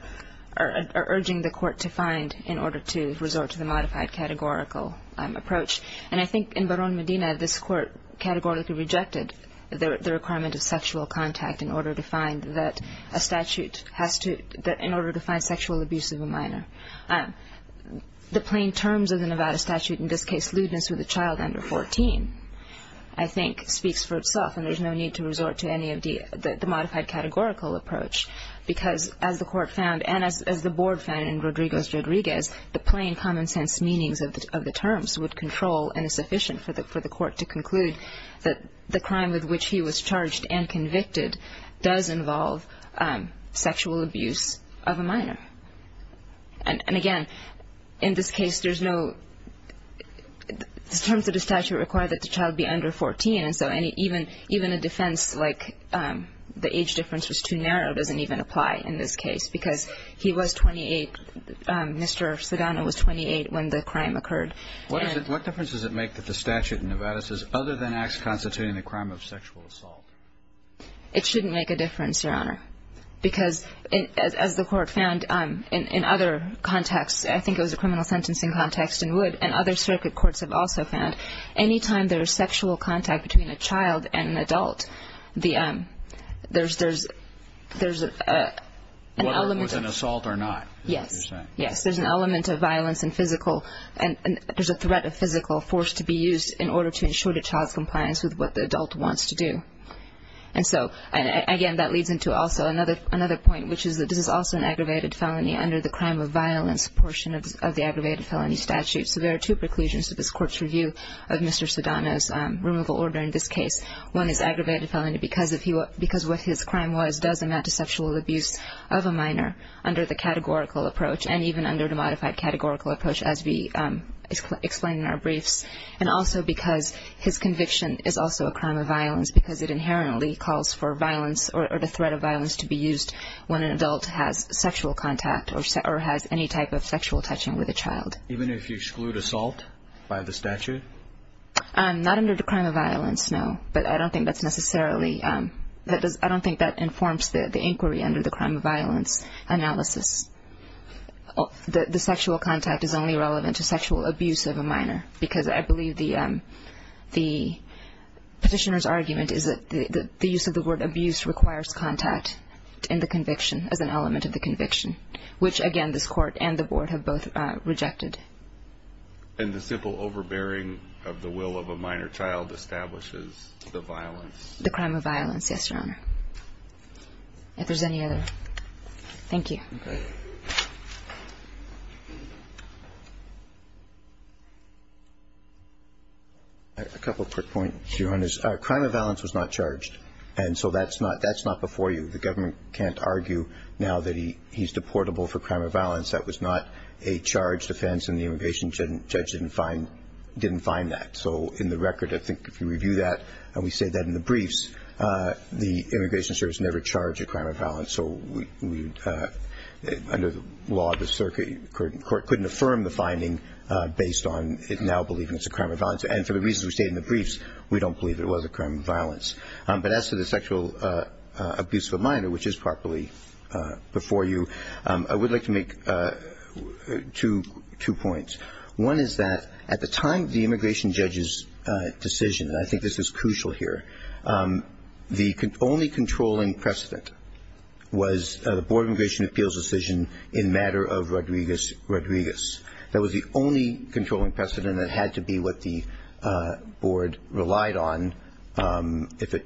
urging the court to find in order to resort to the modified categorical approach. And I think in Barón Medina, this court categorically rejected the requirement of sexual contact in order to find sexual abuse of a minor. The plain terms of the Nevada statute in this case, losing to the child under 14, I think speaks for itself, and there's no need to resort to any of the modified categorical approach because, as the court found and as the board found in Rodrigo's-Rodriguez, the plain, common-sense meanings of the terms would control and is sufficient for the court to conclude that the crime with which he was charged and convicted does involve sexual abuse of a minor. And, again, in this case, there's no- the terms of the statute require that the child be under 14, and so even a defense like the age difference was too narrow doesn't even apply in this case because he was 28, Mr. Savano was 28 when the crime occurred. What difference does it make that the statute in Nevada says other than acts constituting the crime of sexual assault? It shouldn't make a difference, Your Honor, because, as the court found in other contexts, I think it was a criminal sentencing context in Wood, and other circuit courts have also found, that any time there's sexual contact between a child and an adult, there's an element of- Whether it was an assault or not, is what you're saying. Yes, there's an element of violence and physical- there's a threat of physical force to be used in order to ensure the child's compliance with what the adult wants to do. And so, again, that leads into also another point, which is that this is also an aggravated felony under the crime of violence portion of the aggravated felony statute. So there are two preclusions to this court's review of Mr. Savano's removal order in this case. One is aggravated felony because what his crime was does amount to sexual abuse of a minor under the categorical approach, and even under the modified categorical approach, as we explain in our briefs. And also because his conviction is also a crime of violence because it inherently calls for violence or the threat of violence to be used when an adult has sexual contact or has any type of sexual touching with a child. Even if you exclude assault by the statute? Not under the crime of violence, no, but I don't think that's necessarily- I don't think that informs the inquiry under the crime of violence analysis. The sexual contact is only relevant to sexual abuse of a minor because I believe the petitioner's argument is that the use of the word abuse requires contact in the conviction, as an element of the conviction, which again, this court and the board have both rejected. And the simple overbearing of the will of a minor child establishes the violence? The crime of violence, yes, Your Honor. If there's any others. Thank you. A couple quick points, Your Honors. Crime of violence was not charged. And so that's not before you. The government can't argue now that he's deportable for crime of violence. That was not a charged offense and the immigration judge didn't find that. So in the record, I think if you review that, and we say that in the briefs, the Immigration Service never charged a crime of violence. So under the law, the circuit couldn't affirm the finding based on it now believing it's a crime of violence. And for the reasons we state in the briefs, we don't believe it was a crime of violence. But as to the sexual abuse of a minor, which is properly before you, I would like to make two points. One is that at the time of the immigration judge's decision, and I think this is crucial here, the only controlling precedent was the Board of Immigration Appeals decision in matter of Rodriguez. That was the only controlling precedent that had to be what the board relied on if it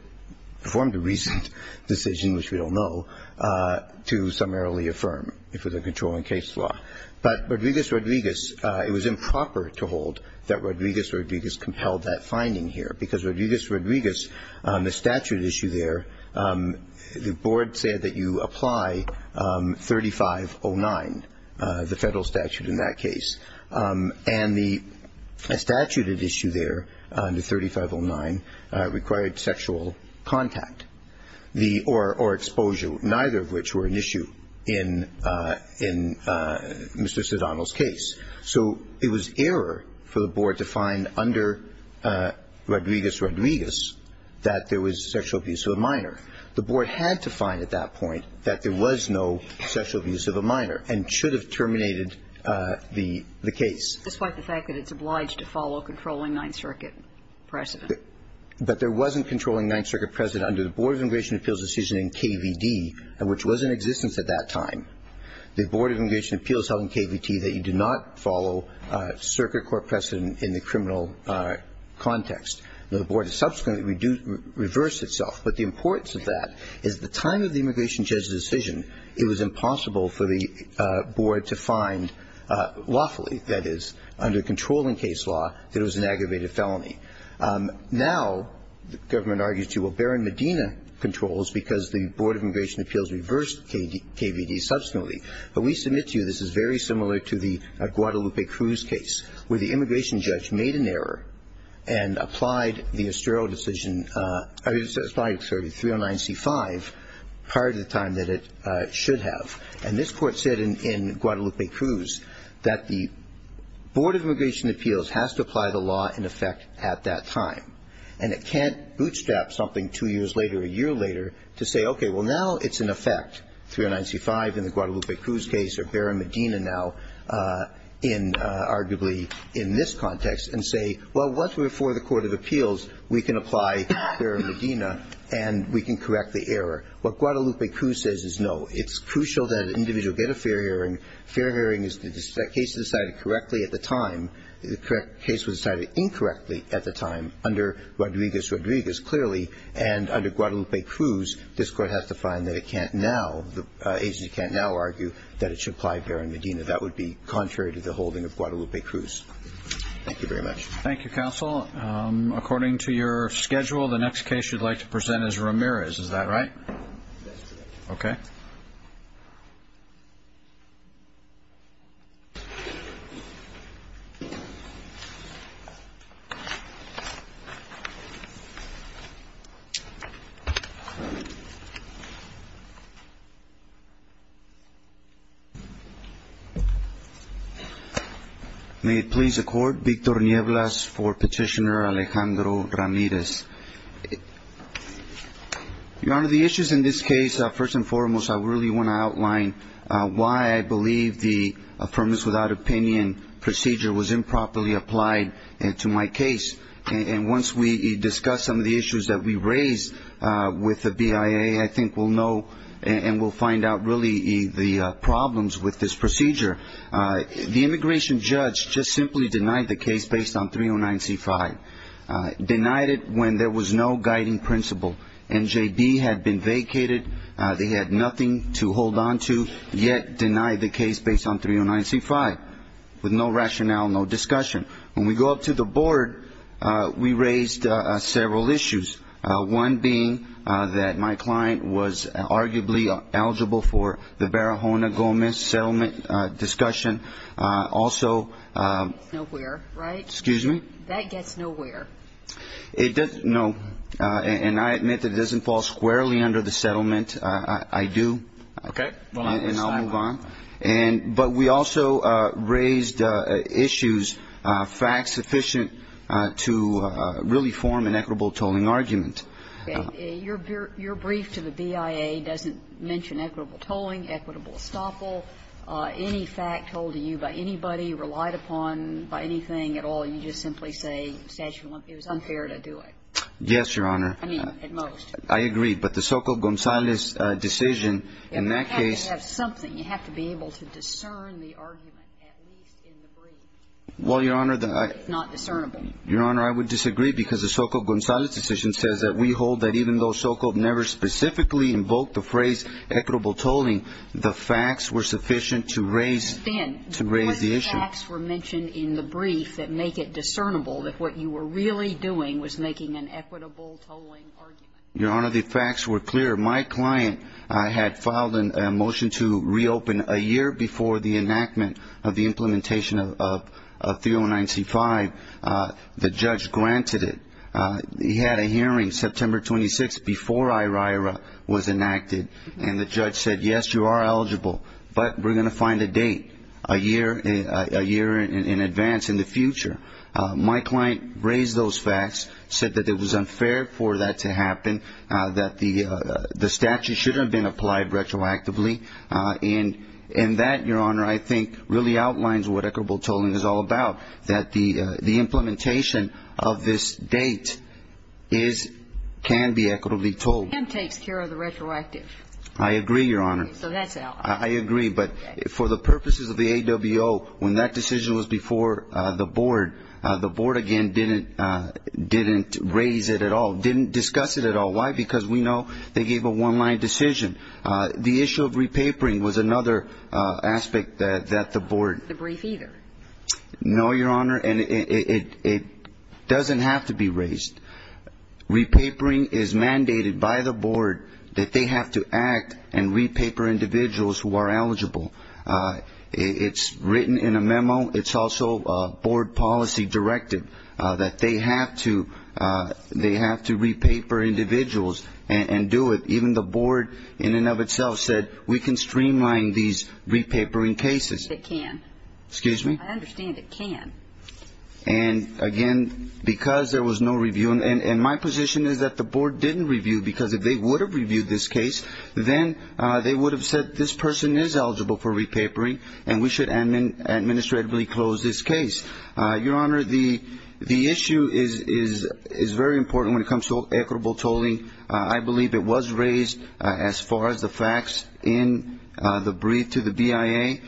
formed a recent decision, which we don't know, to summarily affirm for the controlling case law. But Rodriguez-Rodriguez, it was improper to hold that Rodriguez-Rodriguez compelled that finding here because Rodriguez-Rodriguez, the statute issue there, the board said that you apply 3509, the federal statute in that case. And the statute at issue there, the 3509, required sexual contact or exposure, neither of which were an issue in Mr. Sidano's case. So it was error for the board to find under Rodriguez-Rodriguez that there was sexual abuse of a minor. However, the board had to find at that point that there was no sexual abuse of a minor and should have terminated the case. Despite the fact that it's obliged to follow a controlling Ninth Circuit precedent. But there wasn't a controlling Ninth Circuit precedent under the Board of Immigration Appeals decision in KVD, which was in existence at that time. The Board of Immigration Appeals held in KVT that you do not follow a circuit court precedent in the criminal context. The board subsequently reversed itself. But the importance of that is the time of the immigration judge's decision, it was impossible for the board to find lawfully, that is, under controlling case law, that it was an aggravated felony. Now, the government argues, well, Barron-Medina controls because the Board of Immigration Appeals reversed KVD subsequently. But we submit to you this is very similar to the Guadalupe Cruz case, where the immigration judge made an error and applied the Estrella decision, sorry, 309C5, prior to the time that it should have. And this court said in Guadalupe Cruz that the Board of Immigration Appeals has to apply the law in effect at that time. And it can't bootstrap something two years later, a year later, to say, okay, well, now it's in effect. 309C5 in the Guadalupe Cruz case, or Barron-Medina now, in arguably in this context, and say, well, once we're before the Court of Appeals, we can apply Barron-Medina and we can correct the error. What Guadalupe Cruz says is no. It's crucial that an individual get a fair hearing. Fair hearing is the case was decided correctly at the time. The correct case was decided incorrectly at the time under Rodriguez-Rodriguez, clearly. And under Guadalupe Cruz, this court has to find that it can't now, the agency can't now argue that it should apply Barron-Medina. That would be contrary to the holding of Guadalupe Cruz. Thank you very much. Thank you, counsel. According to your schedule, the next case you'd like to present is Ramirez. Is that right? Okay. May it please the Court, Victor Nieblas for Petitioner Alejandro Ramirez. Your Honor, the issues in this case, first and foremost, I really want to outline why I believe the Affirmatives Without Opinion procedure was improperly applied to my case. And once we discuss some of the issues that we raised with the BIA, I think we'll know and we'll find out really the problems with this procedure. The immigration judge just simply denied the case based on 309C5. Denied it when there was no guiding principle. NJD had been vacated. They had nothing to hold on to, yet denied the case based on 309C5 with no rationale, no discussion. When we go up to the Board, we raised several issues, one being that my client was arguably eligible for the Barahona-Gomez settlement discussion. Also... Nowhere, right? Excuse me? That gets nowhere. No. And I admit that it doesn't fall squarely under the settlement. I do. Okay. And I'll move on. But we also raised issues fact-sufficient to really form an equitable tolling argument. Your brief to the BIA doesn't mention equitable tolling, equitable estoppel, any fact told to you by anybody, relied upon by anything at all. You just simply say it was unfair to do it. Yes, Your Honor. I mean, at most. I agree. But the Sokol-Gonzalez decision in that case... You have to have something. You have to be able to discern the argument, at least in the brief. Well, Your Honor... It's not discernible. Your Honor, I would disagree because the Sokol-Gonzalez decision says that we hold that even though Sokol never specifically invoked the phrase equitable tolling, the facts were sufficient to raise the issue. Ben, the facts were mentioned in the brief that make it discernible that what you were really doing was making an equitable tolling argument. Your Honor, the facts were clear. My client had filed a motion to reopen a year before the enactment of the implementation of 3095. The judge granted it. He had a hearing, September 26th, before IRAIRA was enacted. And the judge said, yes, you are eligible, but we're going to find a date, a year in advance in the future. My client raised those facts, said that it was unfair for that to happen, that the statute shouldn't have been applied retroactively. And that, Your Honor, I think really outlines what equitable tolling is all about, that the implementation of this date can be equitably tolled. It can take care of the retroactive. I agree, Your Honor. So that's out. I agree, but for the purposes of the AWO, when that decision was before the board, the board, again, didn't raise it at all, didn't discuss it at all. Why? Because we know they gave a one-line decision. The issue of repapering was another aspect that the board raised. No, Your Honor, and it doesn't have to be raised. Repapering is mandated by the board that they have to act and repaper individuals who are eligible. It's written in a memo. It's also a board policy directive that they have to repaper individuals and do it. Even the board in and of itself said we can streamline these repapering cases. It can. Excuse me? I understand it can. And, again, because there was no review, and my position is that the board didn't review because if they would have reviewed this case, then they would have said this person is eligible for repapering and we should administratively close this case. Your Honor, the issue is very important when it comes to equitable tolling. I believe it was raised as far as the facts in the brief to the BIA.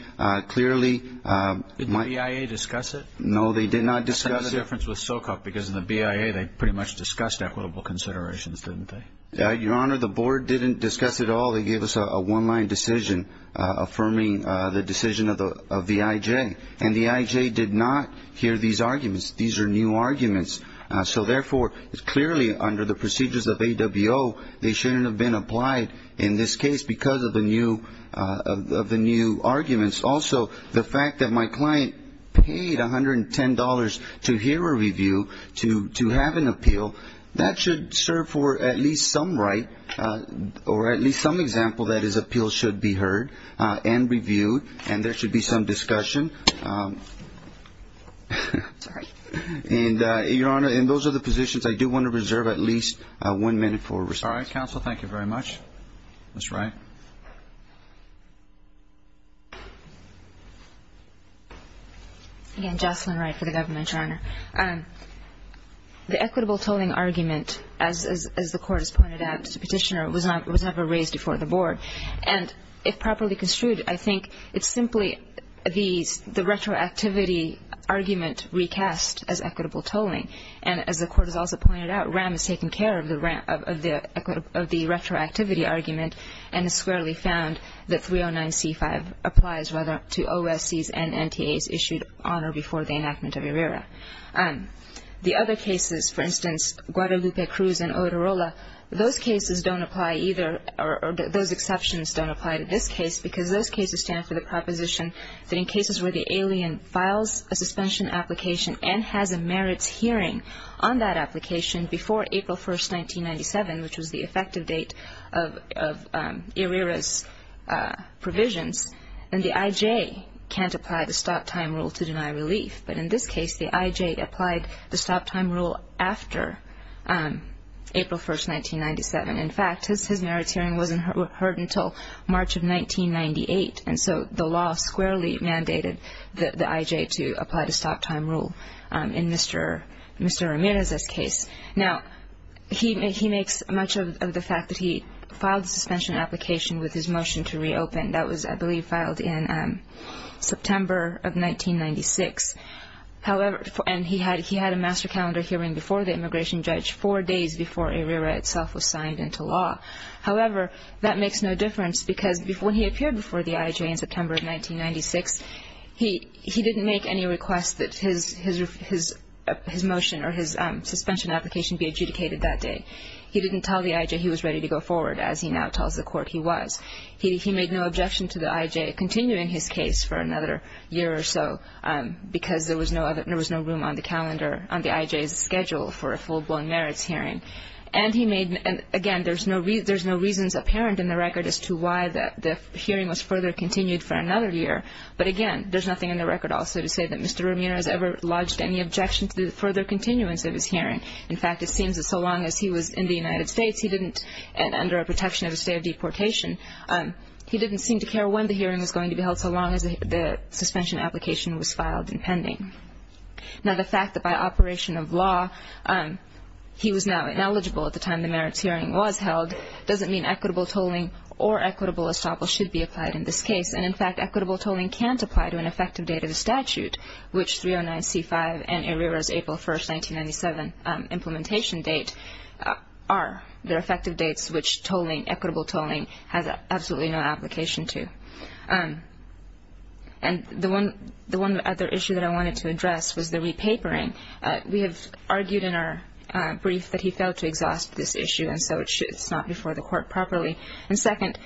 Did the BIA discuss it? No, they did not discuss it. That's the difference with SOCOC because in the BIA they pretty much discussed equitable considerations, didn't they? Your Honor, the board didn't discuss it at all. They gave us a one-line decision affirming the decision of the IJ, and the IJ did not hear these arguments. These are new arguments. So, therefore, it's clearly under the procedures of AWO they shouldn't have been applied in this case because of the new arguments. Also, the fact that my client paid $110 to hear a review to have an appeal, that should serve for at least some right or at least some example that his appeal should be heard and reviewed, and there should be some discussion. Sorry. Your Honor, those are the positions. I do want to reserve at least one minute for response. All right, counsel. Thank you very much. Ms. Wright. Again, Jocelyn Wright for the government, Your Honor. The equitable tolling argument, as the court has pointed out, as a petitioner, was never raised before the board. And if properly construed, I think it's simply the retroactivity argument recast as equitable tolling. And as the court has also pointed out, RAM has taken care of the retroactivity argument, and it's clearly found that 309C5 applies to OSCs and NTAs issued on or before the enactment of ERIRA. The other cases, for instance, Guadalupe Cruz and Odorola, those cases don't apply either or those exceptions don't apply to this case because those cases stand for the proposition that in cases where the alien files a suspension application and has a merits hearing on that application before April 1, 1997, which was the effective date of ERIRA's provisions, then the IJ can't apply the stop time rule to deny relief. But in this case, the IJ applied the stop time rule after April 1, 1997. In fact, his merits hearing wasn't heard until March of 1998, and so the law squarely mandated the IJ to apply the stop time rule in Mr. Ramirez's case. Now, he makes much of the fact that he filed a suspension application with his motion to reopen. That was, I believe, filed in September of 1996, and he had a master calendar hearing before the immigration judge four days before ERIRA itself was signed into law. However, that makes no difference because when he appeared before the IJ in September of 1996, he didn't make any requests that his motion or his suspension application be adjudicated that day. He didn't tell the IJ he was ready to go forward as he now tells the court he was. He made no objection to the IJ continuing his case for another year or so because there was no room on the IJ's schedule for a full-blown merits hearing. And again, there's no reasons apparent in the record as to why the hearing was further continued for another year. But again, there's nothing in the record also to say that Mr. Ramirez ever lodged any objection to the further continuance of his hearing. In fact, it seems that so long as he was in the United States and under a protection of a state of deportation, he didn't seem to care when the hearing was going to be held so long as the suspension application was filed in pending. Now, the fact that by operation of law he was now eligible at the time the merits hearing was held doesn't mean equitable tolling or equitable assemble should be applied in this case. And in fact, equitable tolling can't apply to an effective date of the statute, which 309C5 and Ramirez's April 1, 1997 implementation date are. They're effective dates which equitable tolling has absolutely no application to. And the one other issue that I wanted to address was the repapering. We have argued in our brief that he failed to exhaust this issue, and so it's not before the court properly. And second,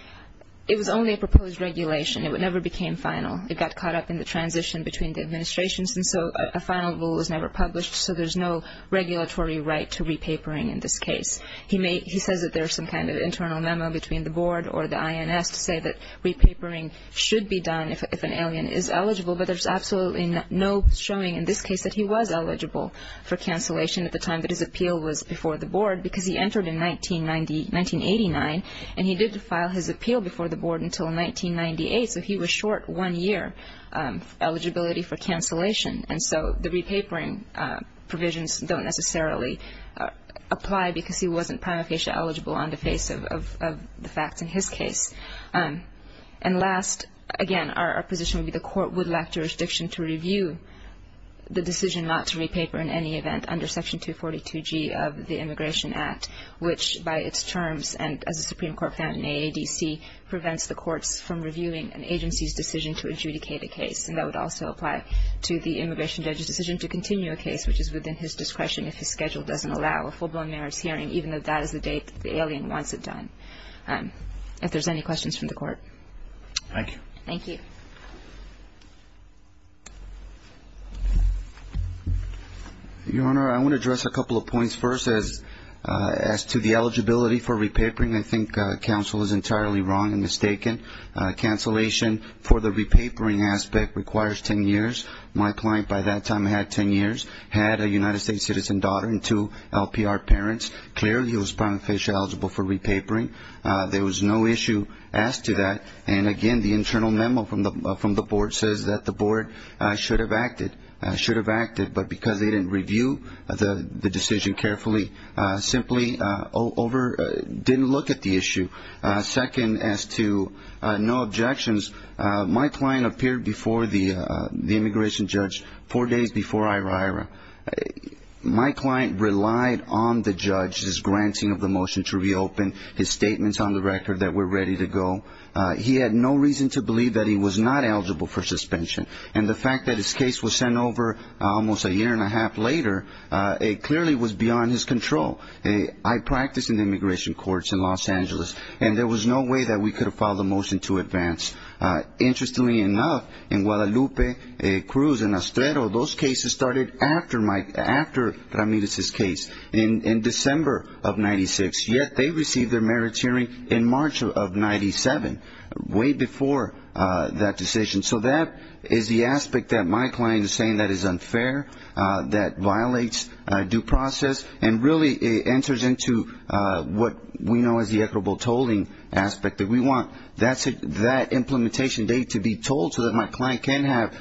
it was only a proposed regulation. It never became final. It got caught up in the transition between the administrations, and so a final rule was never published, so there's no regulatory right to repapering in this case. He says that there was some kind of internal memo between the board or the INS to say that repapering should be done if an alien is eligible, but there's absolutely no showing in this case that he was eligible for cancellation at the time that his appeal was before the board because he entered in 1989, and he didn't file his appeal before the board until 1998, so he was short one year eligibility for cancellation. And so the repapering provisions don't necessarily apply because he wasn't prima facie eligible on the face of the facts in his case. And last, again, our position would be the court would lack jurisdiction to review the decision not to repaper in any event under Section 242G of the Immigration Act, which by its terms and as the Supreme Court found in AADC, prevents the court from reviewing an agency's decision to adjudicate a case, and that would also apply to the immigration judge's decision to continue a case, which is within his discretion if his schedule doesn't allow a full-blown marriage hearing, even if that is a date the alien wants it done. If there's any questions from the court. Thank you. Thank you. Your Honor, I want to address a couple of points. First, as to the eligibility for repapering, I think counsel is entirely wrong and mistaken. Cancellation for the repapering aspect requires 10 years. My client by that time had 10 years, had a United States citizen daughter and two LPR parents. Clearly, he was prima facie eligible for repapering. There was no issue as to that. Again, the internal memo from the board said that the board should have acted, but because they didn't review the decision carefully, simply didn't look at the issue. Second, as to no objections, my client appeared before the immigration judge four days before. My client relied on the judge's granting of the motion to reopen, his statements on the record that we're ready to go. He had no reason to believe that he was not eligible for suspension, and the fact that his case was sent over almost a year and a half later, it clearly was beyond his control. I practiced in immigration courts in Los Angeles, and there was no way that we could have filed a motion to advance. Interestingly enough, in Guadalupe, Cruz, and Ostrero, those cases started after Ramirez's case in December of 1996, yet they received their merit hearing in March of 1997, way before that decision. So that is the aspect that my client is saying that is unfair, that violates due process, and really enters into what we know as the equitable tolling aspect that we want. That implementation date to be told so that my client can have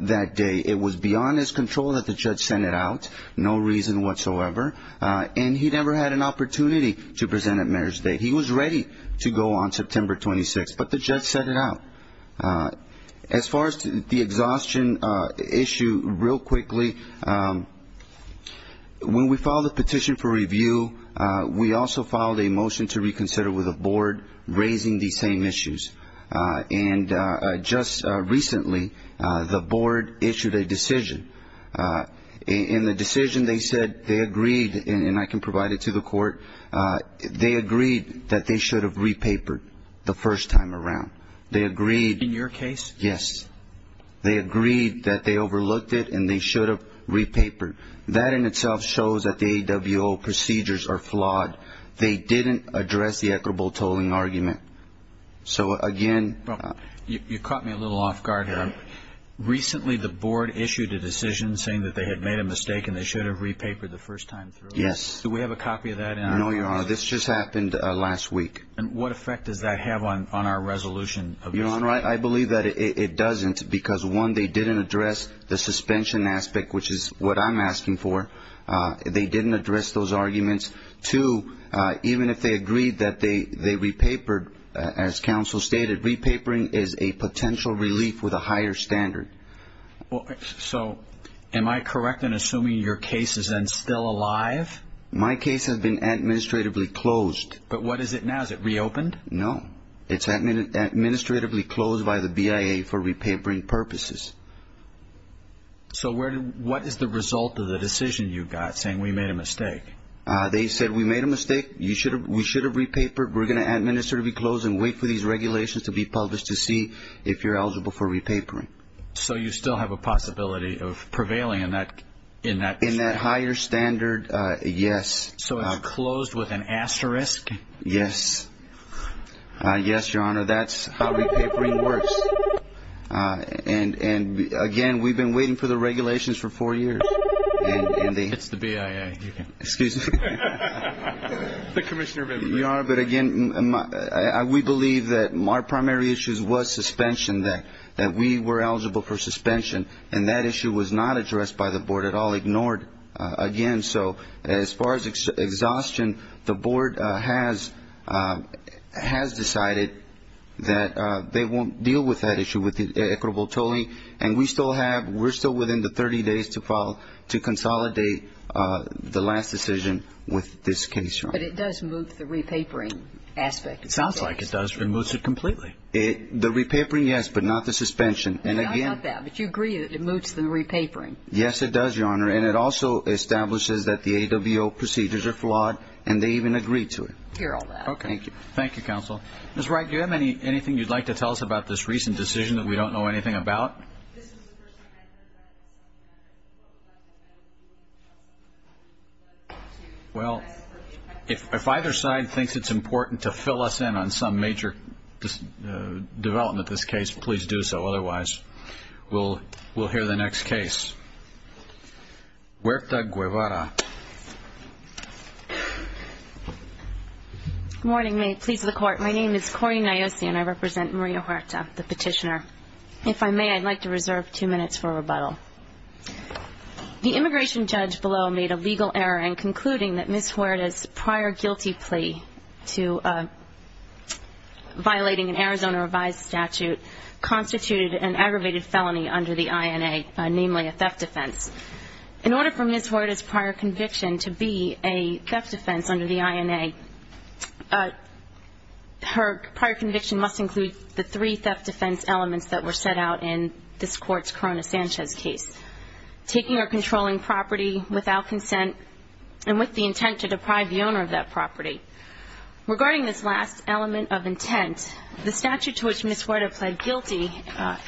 that date, it was beyond his control that the judge send it out, no reason whatsoever, and he never had an opportunity to present a merit state. He was ready to go on September 26th, but the judge sent it out. As far as the exhaustion issue, real quickly, when we filed a petition for review, we also filed a motion to reconsider with the board, raising the same issues. In the decision, they said they agreed, and I can provide it to the court, they agreed that they should have repapered the first time around. They agreed. In your case? Yes. They agreed that they overlooked it and they should have repapered. That in itself shows that the AWO procedures are flawed. They didn't address the equitable tolling argument. So, again... You caught me a little off guard here. Recently, the board issued a decision saying that they had made a mistake and they should have repapered the first time through. Yes. Do we have a copy of that? No, Your Honor. This just happened last week. And what effect did that have on our resolution? Your Honor, I believe that it doesn't because, one, they didn't address the suspension aspect, which is what I'm asking for. They didn't address those arguments. Two, even if they agreed that they repapered, as counsel stated, repapering is a potential relief with a higher standard. So, am I correct in assuming your case is then still alive? My case has been administratively closed. But what is it now? Is it reopened? No. It's administratively closed by the BIA for repapering purposes. So what is the result of the decision you got saying we made a mistake? They said we made a mistake, we should have repapered, we're going to administratively close and wait for these regulations to be published to see if you're eligible for repapering. So you still have a possibility of prevailing in that? In that higher standard, yes. So it's closed with an asterisk? Yes. Yes, Your Honor, that's how repapering works. And, again, we've been waiting for the regulations for four years. It's the BIA. Excuse me. Commissioner Venditti. Your Honor, but, again, we believe that our primary issue was suspension, that we were eligible for suspension, and that issue was not addressed by the Board at all, ignored, again. So as far as exhaustion, the Board has decided that they won't deal with that issue with ECRO-Votoli, and we're still within the 30 days to consolidate the last decision with this case. But it does move to the repapering aspect of things. Sounds like it does. It removes it completely. The repapering, yes, but not the suspension. Not that, but you agree that it moves to the repapering. Yes, it does, Your Honor, and it also establishes that the AWO procedures are flawed, and they even agree to it. Hear all that. Thank you. Thank you, Counsel. Ms. Wright, do you have anything you'd like to tell us about this recent decision that we don't know anything about? Well, if either side thinks it's important to fill us in on some major development of this case, please do so. Otherwise, we'll hear the next case. Huerta Guevara. Good morning, ma'am. Sleet to the Court. My name is Cori Nayosi, and I represent Maria Huerta, the petitioner. If I may, I'd like to reserve two minutes for rebuttal. The immigration judge below made a legal error in concluding that Ms. Huerta's prior guilty plea to violating an Arizona revised statute constituted an aggravated felony under the INA, namely a theft offense. In order for Ms. Huerta's prior conviction to be a theft offense under the INA, her prior conviction must include the three theft offense elements that were set out in this Court's Corona-Sanchez case, taking or controlling property without consent and with the intent to deprive the owner of that property. Regarding this last element of intent, the statute to which Ms. Huerta pled guilty,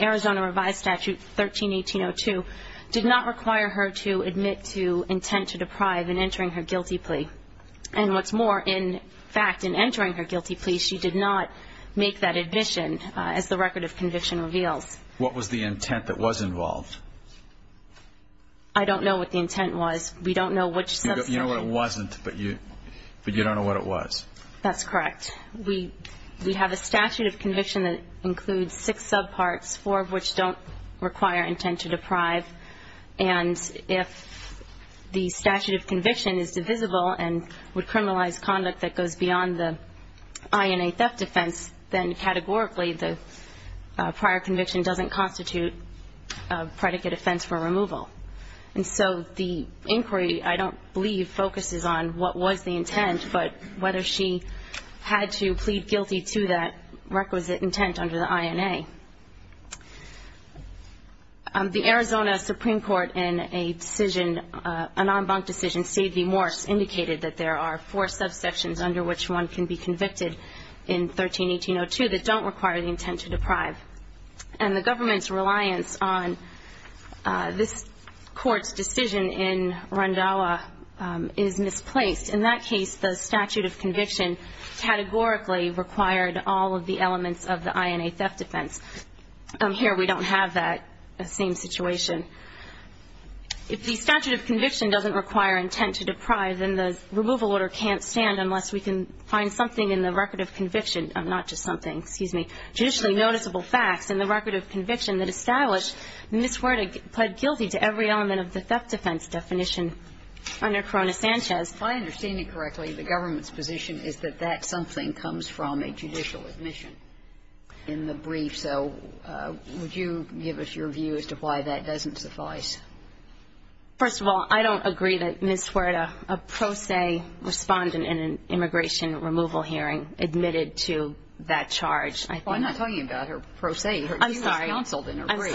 Arizona revised statute 13-1802, did not require her to admit to intent to deprive in entering her guilty plea. And what's more, in fact, in entering her guilty plea, she did not make that admission as the record of conviction revealed. What was the intent that was involved? I don't know what the intent was. We don't know which subsection. You know what it wasn't, but you don't know what it was. That's correct. We have a statute of conviction that includes six subparts, four of which don't require intent to deprive. And if the statute of conviction is divisible and would criminalize conduct that goes beyond the INA theft offense, then categorically the prior conviction doesn't constitute a predicate offense for removal. And so the inquiry, I don't believe, focuses on what was the intent, but whether she had to plead guilty to that requisite intent under the INA. The Arizona Supreme Court in a decision, an en banc decision, Steve V. Morris indicated that there are four subsections under which one can be convicted in 13-1802 that don't require the intent to deprive. And the government's reliance on this court's decision in Rondalla is misplaced. In that case, the statute of conviction categorically required all of the elements of the INA theft offense. Here we don't have that same situation. If the statute of conviction doesn't require intent to deprive, then the removal order can't stand unless we can find something in the record of conviction, not just something, excuse me, judicially noticeable facts in the record of conviction that establish Ms. Huerta pled guilty to every element of the theft offense definition under Corona-Sanchez. If I understand you correctly, the government's position is that that something comes from a judicial admission. In the brief, though, would you give us your views as to why that doesn't suffice? First of all, I don't agree that Ms. Huerta, a pro se respondent in an immigration removal hearing, admitted to that charge. Well, I'm not talking about her pro se. I'm sorry. I'm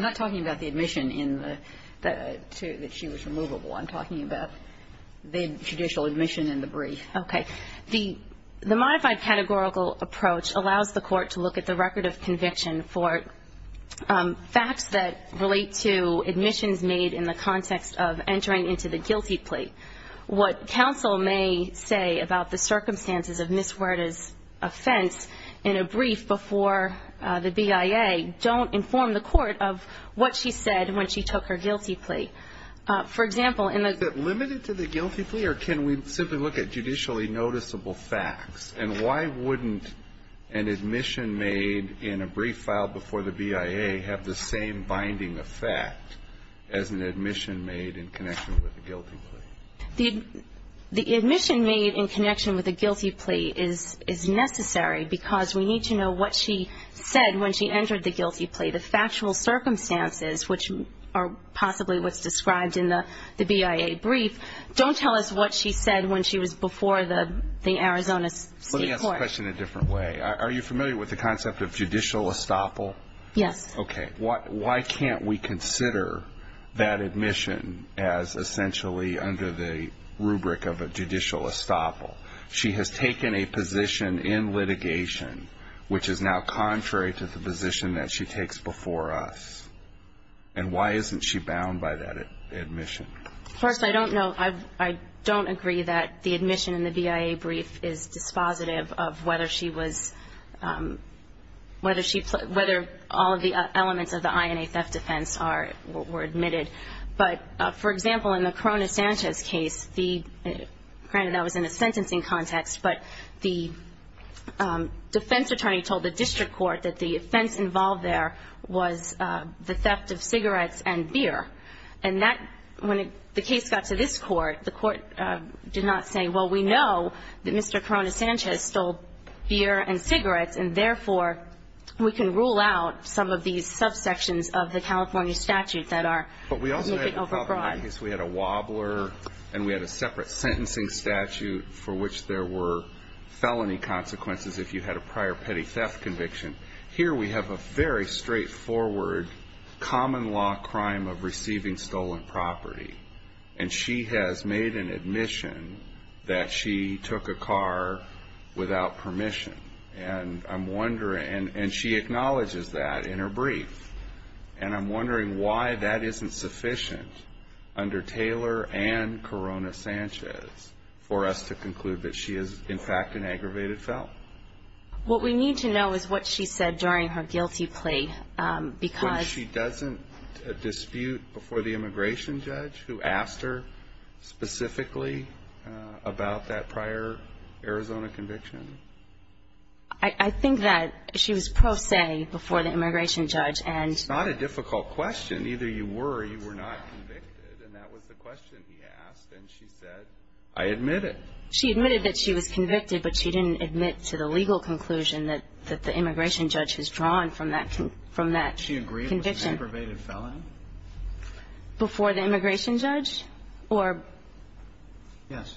not talking about the admission that she was removable. I'm talking about the judicial admission in the brief. Okay. The modified categorical approach allows the court to look at the record of conviction for facts that relate to admissions made in the context of entering into the guilty plea. What counsel may say about the circumstances of Ms. Huerta's offense in a brief before the BIA don't inform the court of what she said when she took her guilty plea. Is it limited to the guilty plea, or can we simply look at judicially noticeable facts? And why wouldn't an admission made in a brief filed before the BIA have the same binding effect as an admission made in connection with the guilty plea? The admission made in connection with the guilty plea is necessary because we need to know what she said when she entered the guilty plea. The factual circumstances, which are possibly what's described in the BIA brief, don't tell us what she said when she was before the Arizona State Court. Let me ask the question a different way. Are you familiar with the concept of judicial estoppel? Yes. Okay. Why can't we consider that admission as essentially under the rubric of a judicial estoppel? She has taken a position in litigation which is now contrary to the position that she takes before us. And why isn't she bound by that admission? First, I don't know. I don't agree that the admission in the BIA brief is dispositive of whether she was – whether all of the elements of the INA theft offense were admitted. But, for example, in the Corona Sanchez case, granted that was in a sentencing context, but the defense attorney told the district court that the offense involved there was the theft of cigarettes and beer. And when the case got to this court, the court did not say, well, we know that Mr. Corona Sanchez stole beer and cigarettes, and, therefore, we can rule out some of these subsections of the California statutes that are – But we also had – Make it overbroad. We had a wobbler, and we had a separate sentencing statute for which there were felony consequences if you had a prior petty theft conviction. Here we have a very straightforward common law crime of receiving stolen property, and she has made an admission that she took a car without permission. And I'm wondering – and she acknowledges that in her brief. And I'm wondering why that isn't sufficient under Taylor and Corona Sanchez for us to conclude that she is, in fact, an aggravated felon. What we need to know is what she said during her guilty plea because – She doesn't dispute before the immigration judge who asked her specifically about that prior Arizona conviction? I think that she was pro se before the immigration judge and – It's not a difficult question. Either you were or you were not convicted, and that was the question he asked. And she said, I admit it. She admitted that she was convicted, but she didn't admit to the legal conclusion that the immigration judge has drawn from that conviction. She agreed it was an aggravated felony? Before the immigration judge? Yes.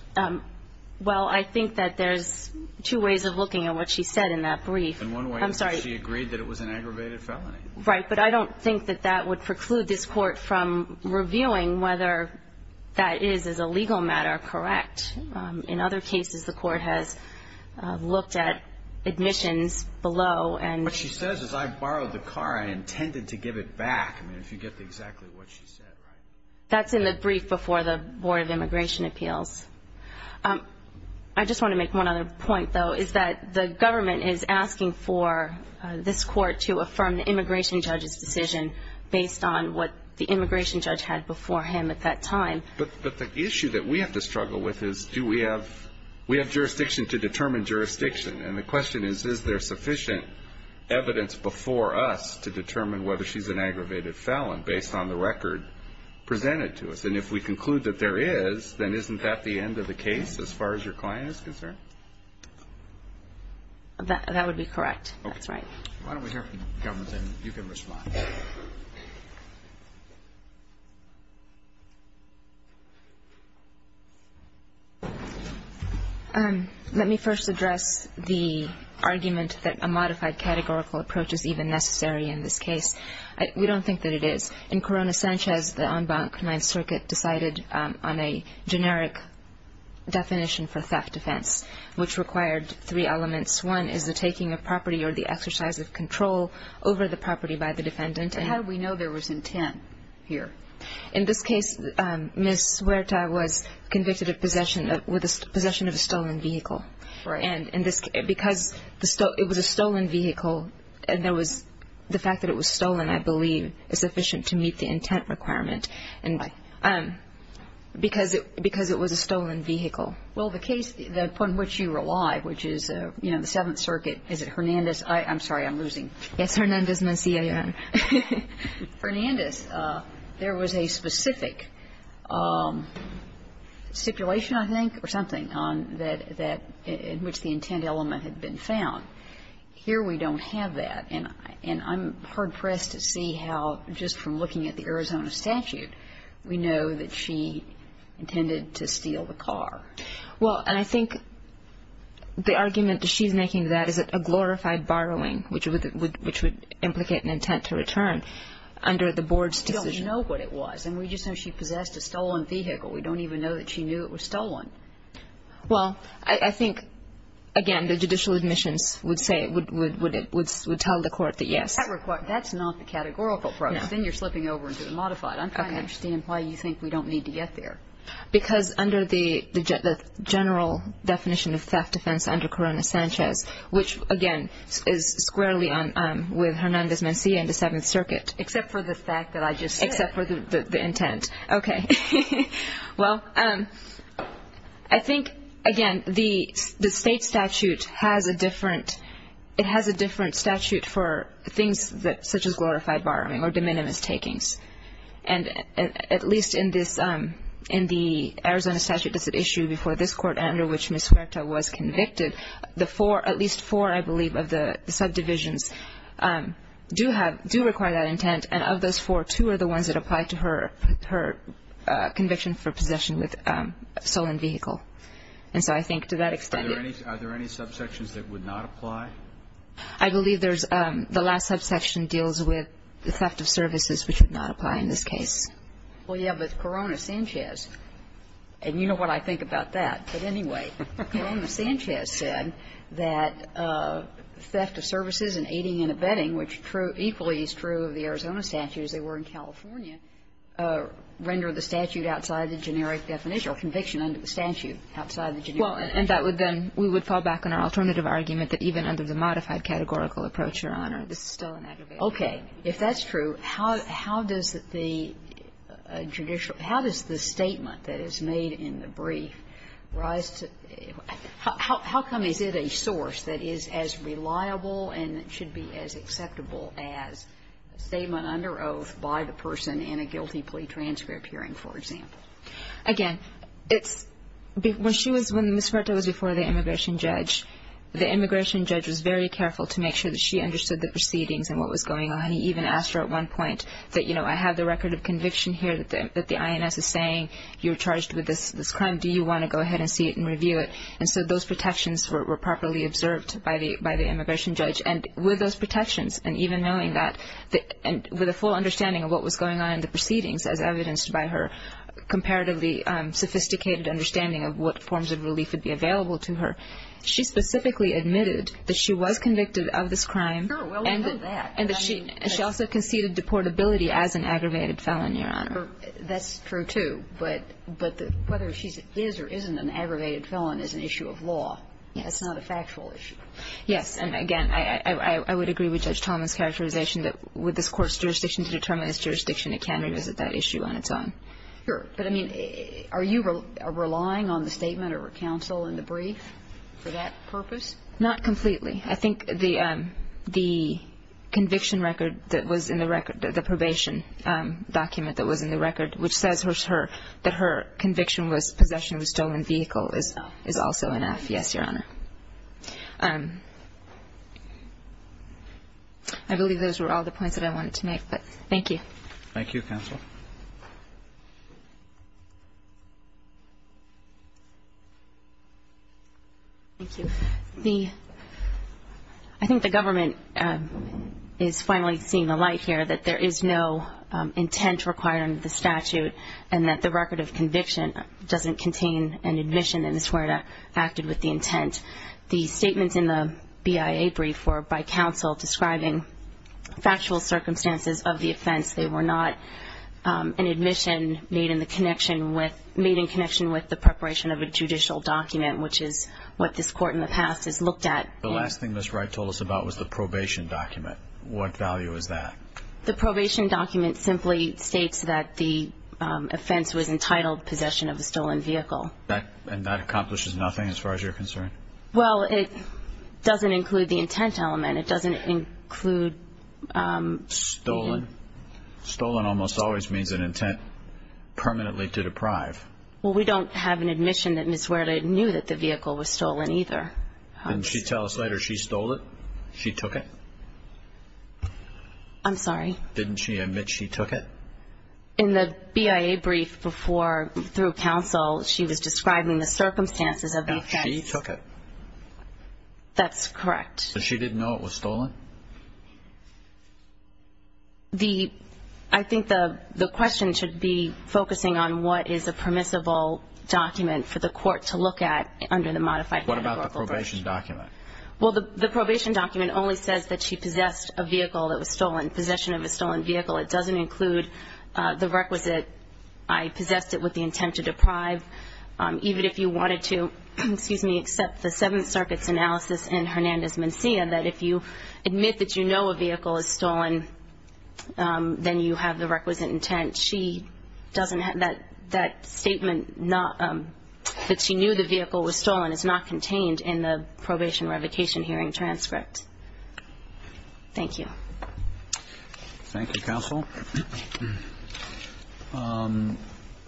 Well, I think that there's two ways of looking at what she said in that brief. In one way, she agreed that it was an aggravated felony. Right, but I don't think that that would preclude this court from reviewing whether that is, as a legal matter, correct. In other cases, the court has looked at admissions below and – What she says is, I borrowed the car and intended to give it back. I mean, if you get exactly what she said, right? That's in the brief before the Board of Immigration Appeals. I just want to make one other point, though, is that the government is asking for this court to affirm the immigration judge's decision based on what the immigration judge had beforehand at that time. But the issue that we have to struggle with is, do we have – we have jurisdiction to determine jurisdiction. And the question is, is there sufficient evidence before us to determine whether she's an aggravated felon based on the record presented to us? And if we conclude that there is, then isn't that the end of the case as far as your client is concerned? That would be correct. Okay. Why don't we hear from the government, and you can respond. Let me first address the argument that a modified categorical approach is even necessary in this case. We don't think that it is. In Korona Sanchez, the en banc, 9th Circuit, decided on a generic definition for theft defense, which required three elements. One is the taking of property or the exercise of control over the property by the defendant. And how do we know there was intent here? In this case, Ms. Huerta was convicted of possession of a stolen vehicle. Right. And because it was a stolen vehicle, the fact that it was stolen, I believe, is sufficient to meet the intent requirement because it was a stolen vehicle. Well, the case upon which you relied, which is, you know, the 7th Circuit, is it Hernandez? I'm sorry, I'm losing. It's Hernandez, M-C-A-N. Hernandez. There was a specific stipulation, I think, or something, in which the intent element had been found. Here we don't have that. And I'm hard-pressed to see how, just from looking at the Arizona statute, we know that she intended to steal the car. Well, and I think the argument that she's making to that is a glorified borrowing, which would implicate an intent to return under the board's division. We don't know what it was, and we just know she possessed a stolen vehicle. Well, I think, again, the judicial admission would tell the court that, yes. That's not the categorical process. Then you're slipping over into the modified. I don't understand why you think we don't need to get there. Because under the general definition of theft, defense under Corona-Sanchez, which, again, is squarely with Hernandez, M-C-A in the 7th Circuit. Except for the fact that I just said it. Except for the intent. Okay. Well, I think, again, the state statute has a different statute for things such as glorified borrowing or de minimis takings. And at least in the Arizona statute that's at issue before this court and under which Ms. Huerta was convicted, at least four, I believe, of the subdivisions do require that intent. And of those four, two are the ones that apply to her conviction for possession of a stolen vehicle. And so I think to that extent. Are there any subsections that would not apply? I believe the last subsection deals with the theft of services, which would not apply in this case. Well, yes, but it's Corona-Sanchez. And you know what I think about that. But anyway, Corona-Sanchez said that theft of services and aiding and abetting, which equally is true of the Arizona statute as they were in California, render the statute outside the generic definition or conviction under the statute outside the generic definition. Well, and that would then we would fall back on our alternative argument that even under the modified categorical approach, Your Honor, this is still an aggravation. Okay. If that's true, how does the judicial – how does the statement that is made in the brief rise to – how come it is a source that is as reliable and should be as acceptable as a statement under oath by the person in a guilty plea transcript hearing, for example? Again, when Ms. Huerta was before the immigration judge, the immigration judge was very careful to make sure that she understood the proceedings and what was going on. He even asked her at one point that, you know, I have the record of conviction here that the INS is saying you're charged with this crime. Do you want to go ahead and see it and review it? And so those protections were properly observed by the immigration judge. And with those protections and even knowing that – and with a full understanding of what was going on in the proceedings, as evidenced by her comparatively sophisticated understanding of what forms of relief would be available to her, she specifically admitted that she was convicted of this crime. Sure. Well, we know that. And that she also conceded deportability as an aggravated felon, Your Honor. That's true, too. But whether she is or isn't an aggravated felon is an issue of law. It's not a factual issue. Yes. And, again, I would agree with Judge Thomas' characterization that with this court's jurisdiction to determine its jurisdiction, it can revisit that issue on its own. Sure. But, I mean, are you relying on the statement or counsel in the brief for that purpose? Not completely. I think the conviction record that was in the record, the probation document that was in the record, which says that her conviction with possession of a stolen vehicle is also enough. Yes, Your Honor. I believe those were all the points that I wanted to make, but thank you. Thank you, counsel. Thank you. I think the government is finally seeing the light here that there is no intent requiring the statute and that the record of conviction doesn't contain an admission in this where it acted with the intent. The statements in the BIA brief were by counsel describing factual circumstances of the offense. They were not an admission made in connection with the preparation of a judicial document, which is what this court in the past has looked at. The last thing Ms. Wright told us about was the probation document. What value is that? The probation document simply states that the offense was entitled possession of a stolen vehicle. And that accomplishes nothing as far as you're concerned? Well, it doesn't include the intent element. It doesn't include... Stolen. Stolen almost always means an intent permanently to deprive. Well, we don't have an admission that Ms. Wright knew that the vehicle was stolen either. Didn't she tell us later she stole it? She took it? I'm sorry? Didn't she admit she took it? In the BIA brief before, through counsel, she was describing the circumstances of the offense. She took it. That's correct. But she didn't know it was stolen? The... I think the question should be focusing on what is a permissible document for the court to look at under the modified... What about the probation document? Well, the probation document only says that she possessed a vehicle that was stolen, possession of a stolen vehicle. It doesn't include the requisite, I possessed it with the intent to deprive. Even if you wanted to, excuse me, accept the Seventh Circuit's analysis and Hernandez-Mencia, that if you admit that you know a vehicle is stolen, then you have the requisite intent. She doesn't have that statement that she knew the vehicle was stolen. It's not contained in the probation revocation hearing transcript. Thank you. Thank you, counsel.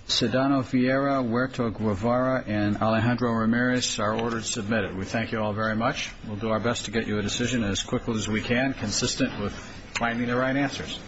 Sedano-Fiera, Huerto-Guevara, and Alejandro-Ramirez are ordered to submit. We thank you all very much. We'll do our best to get you a decision as quickly as we can, consistent with finding the right answers.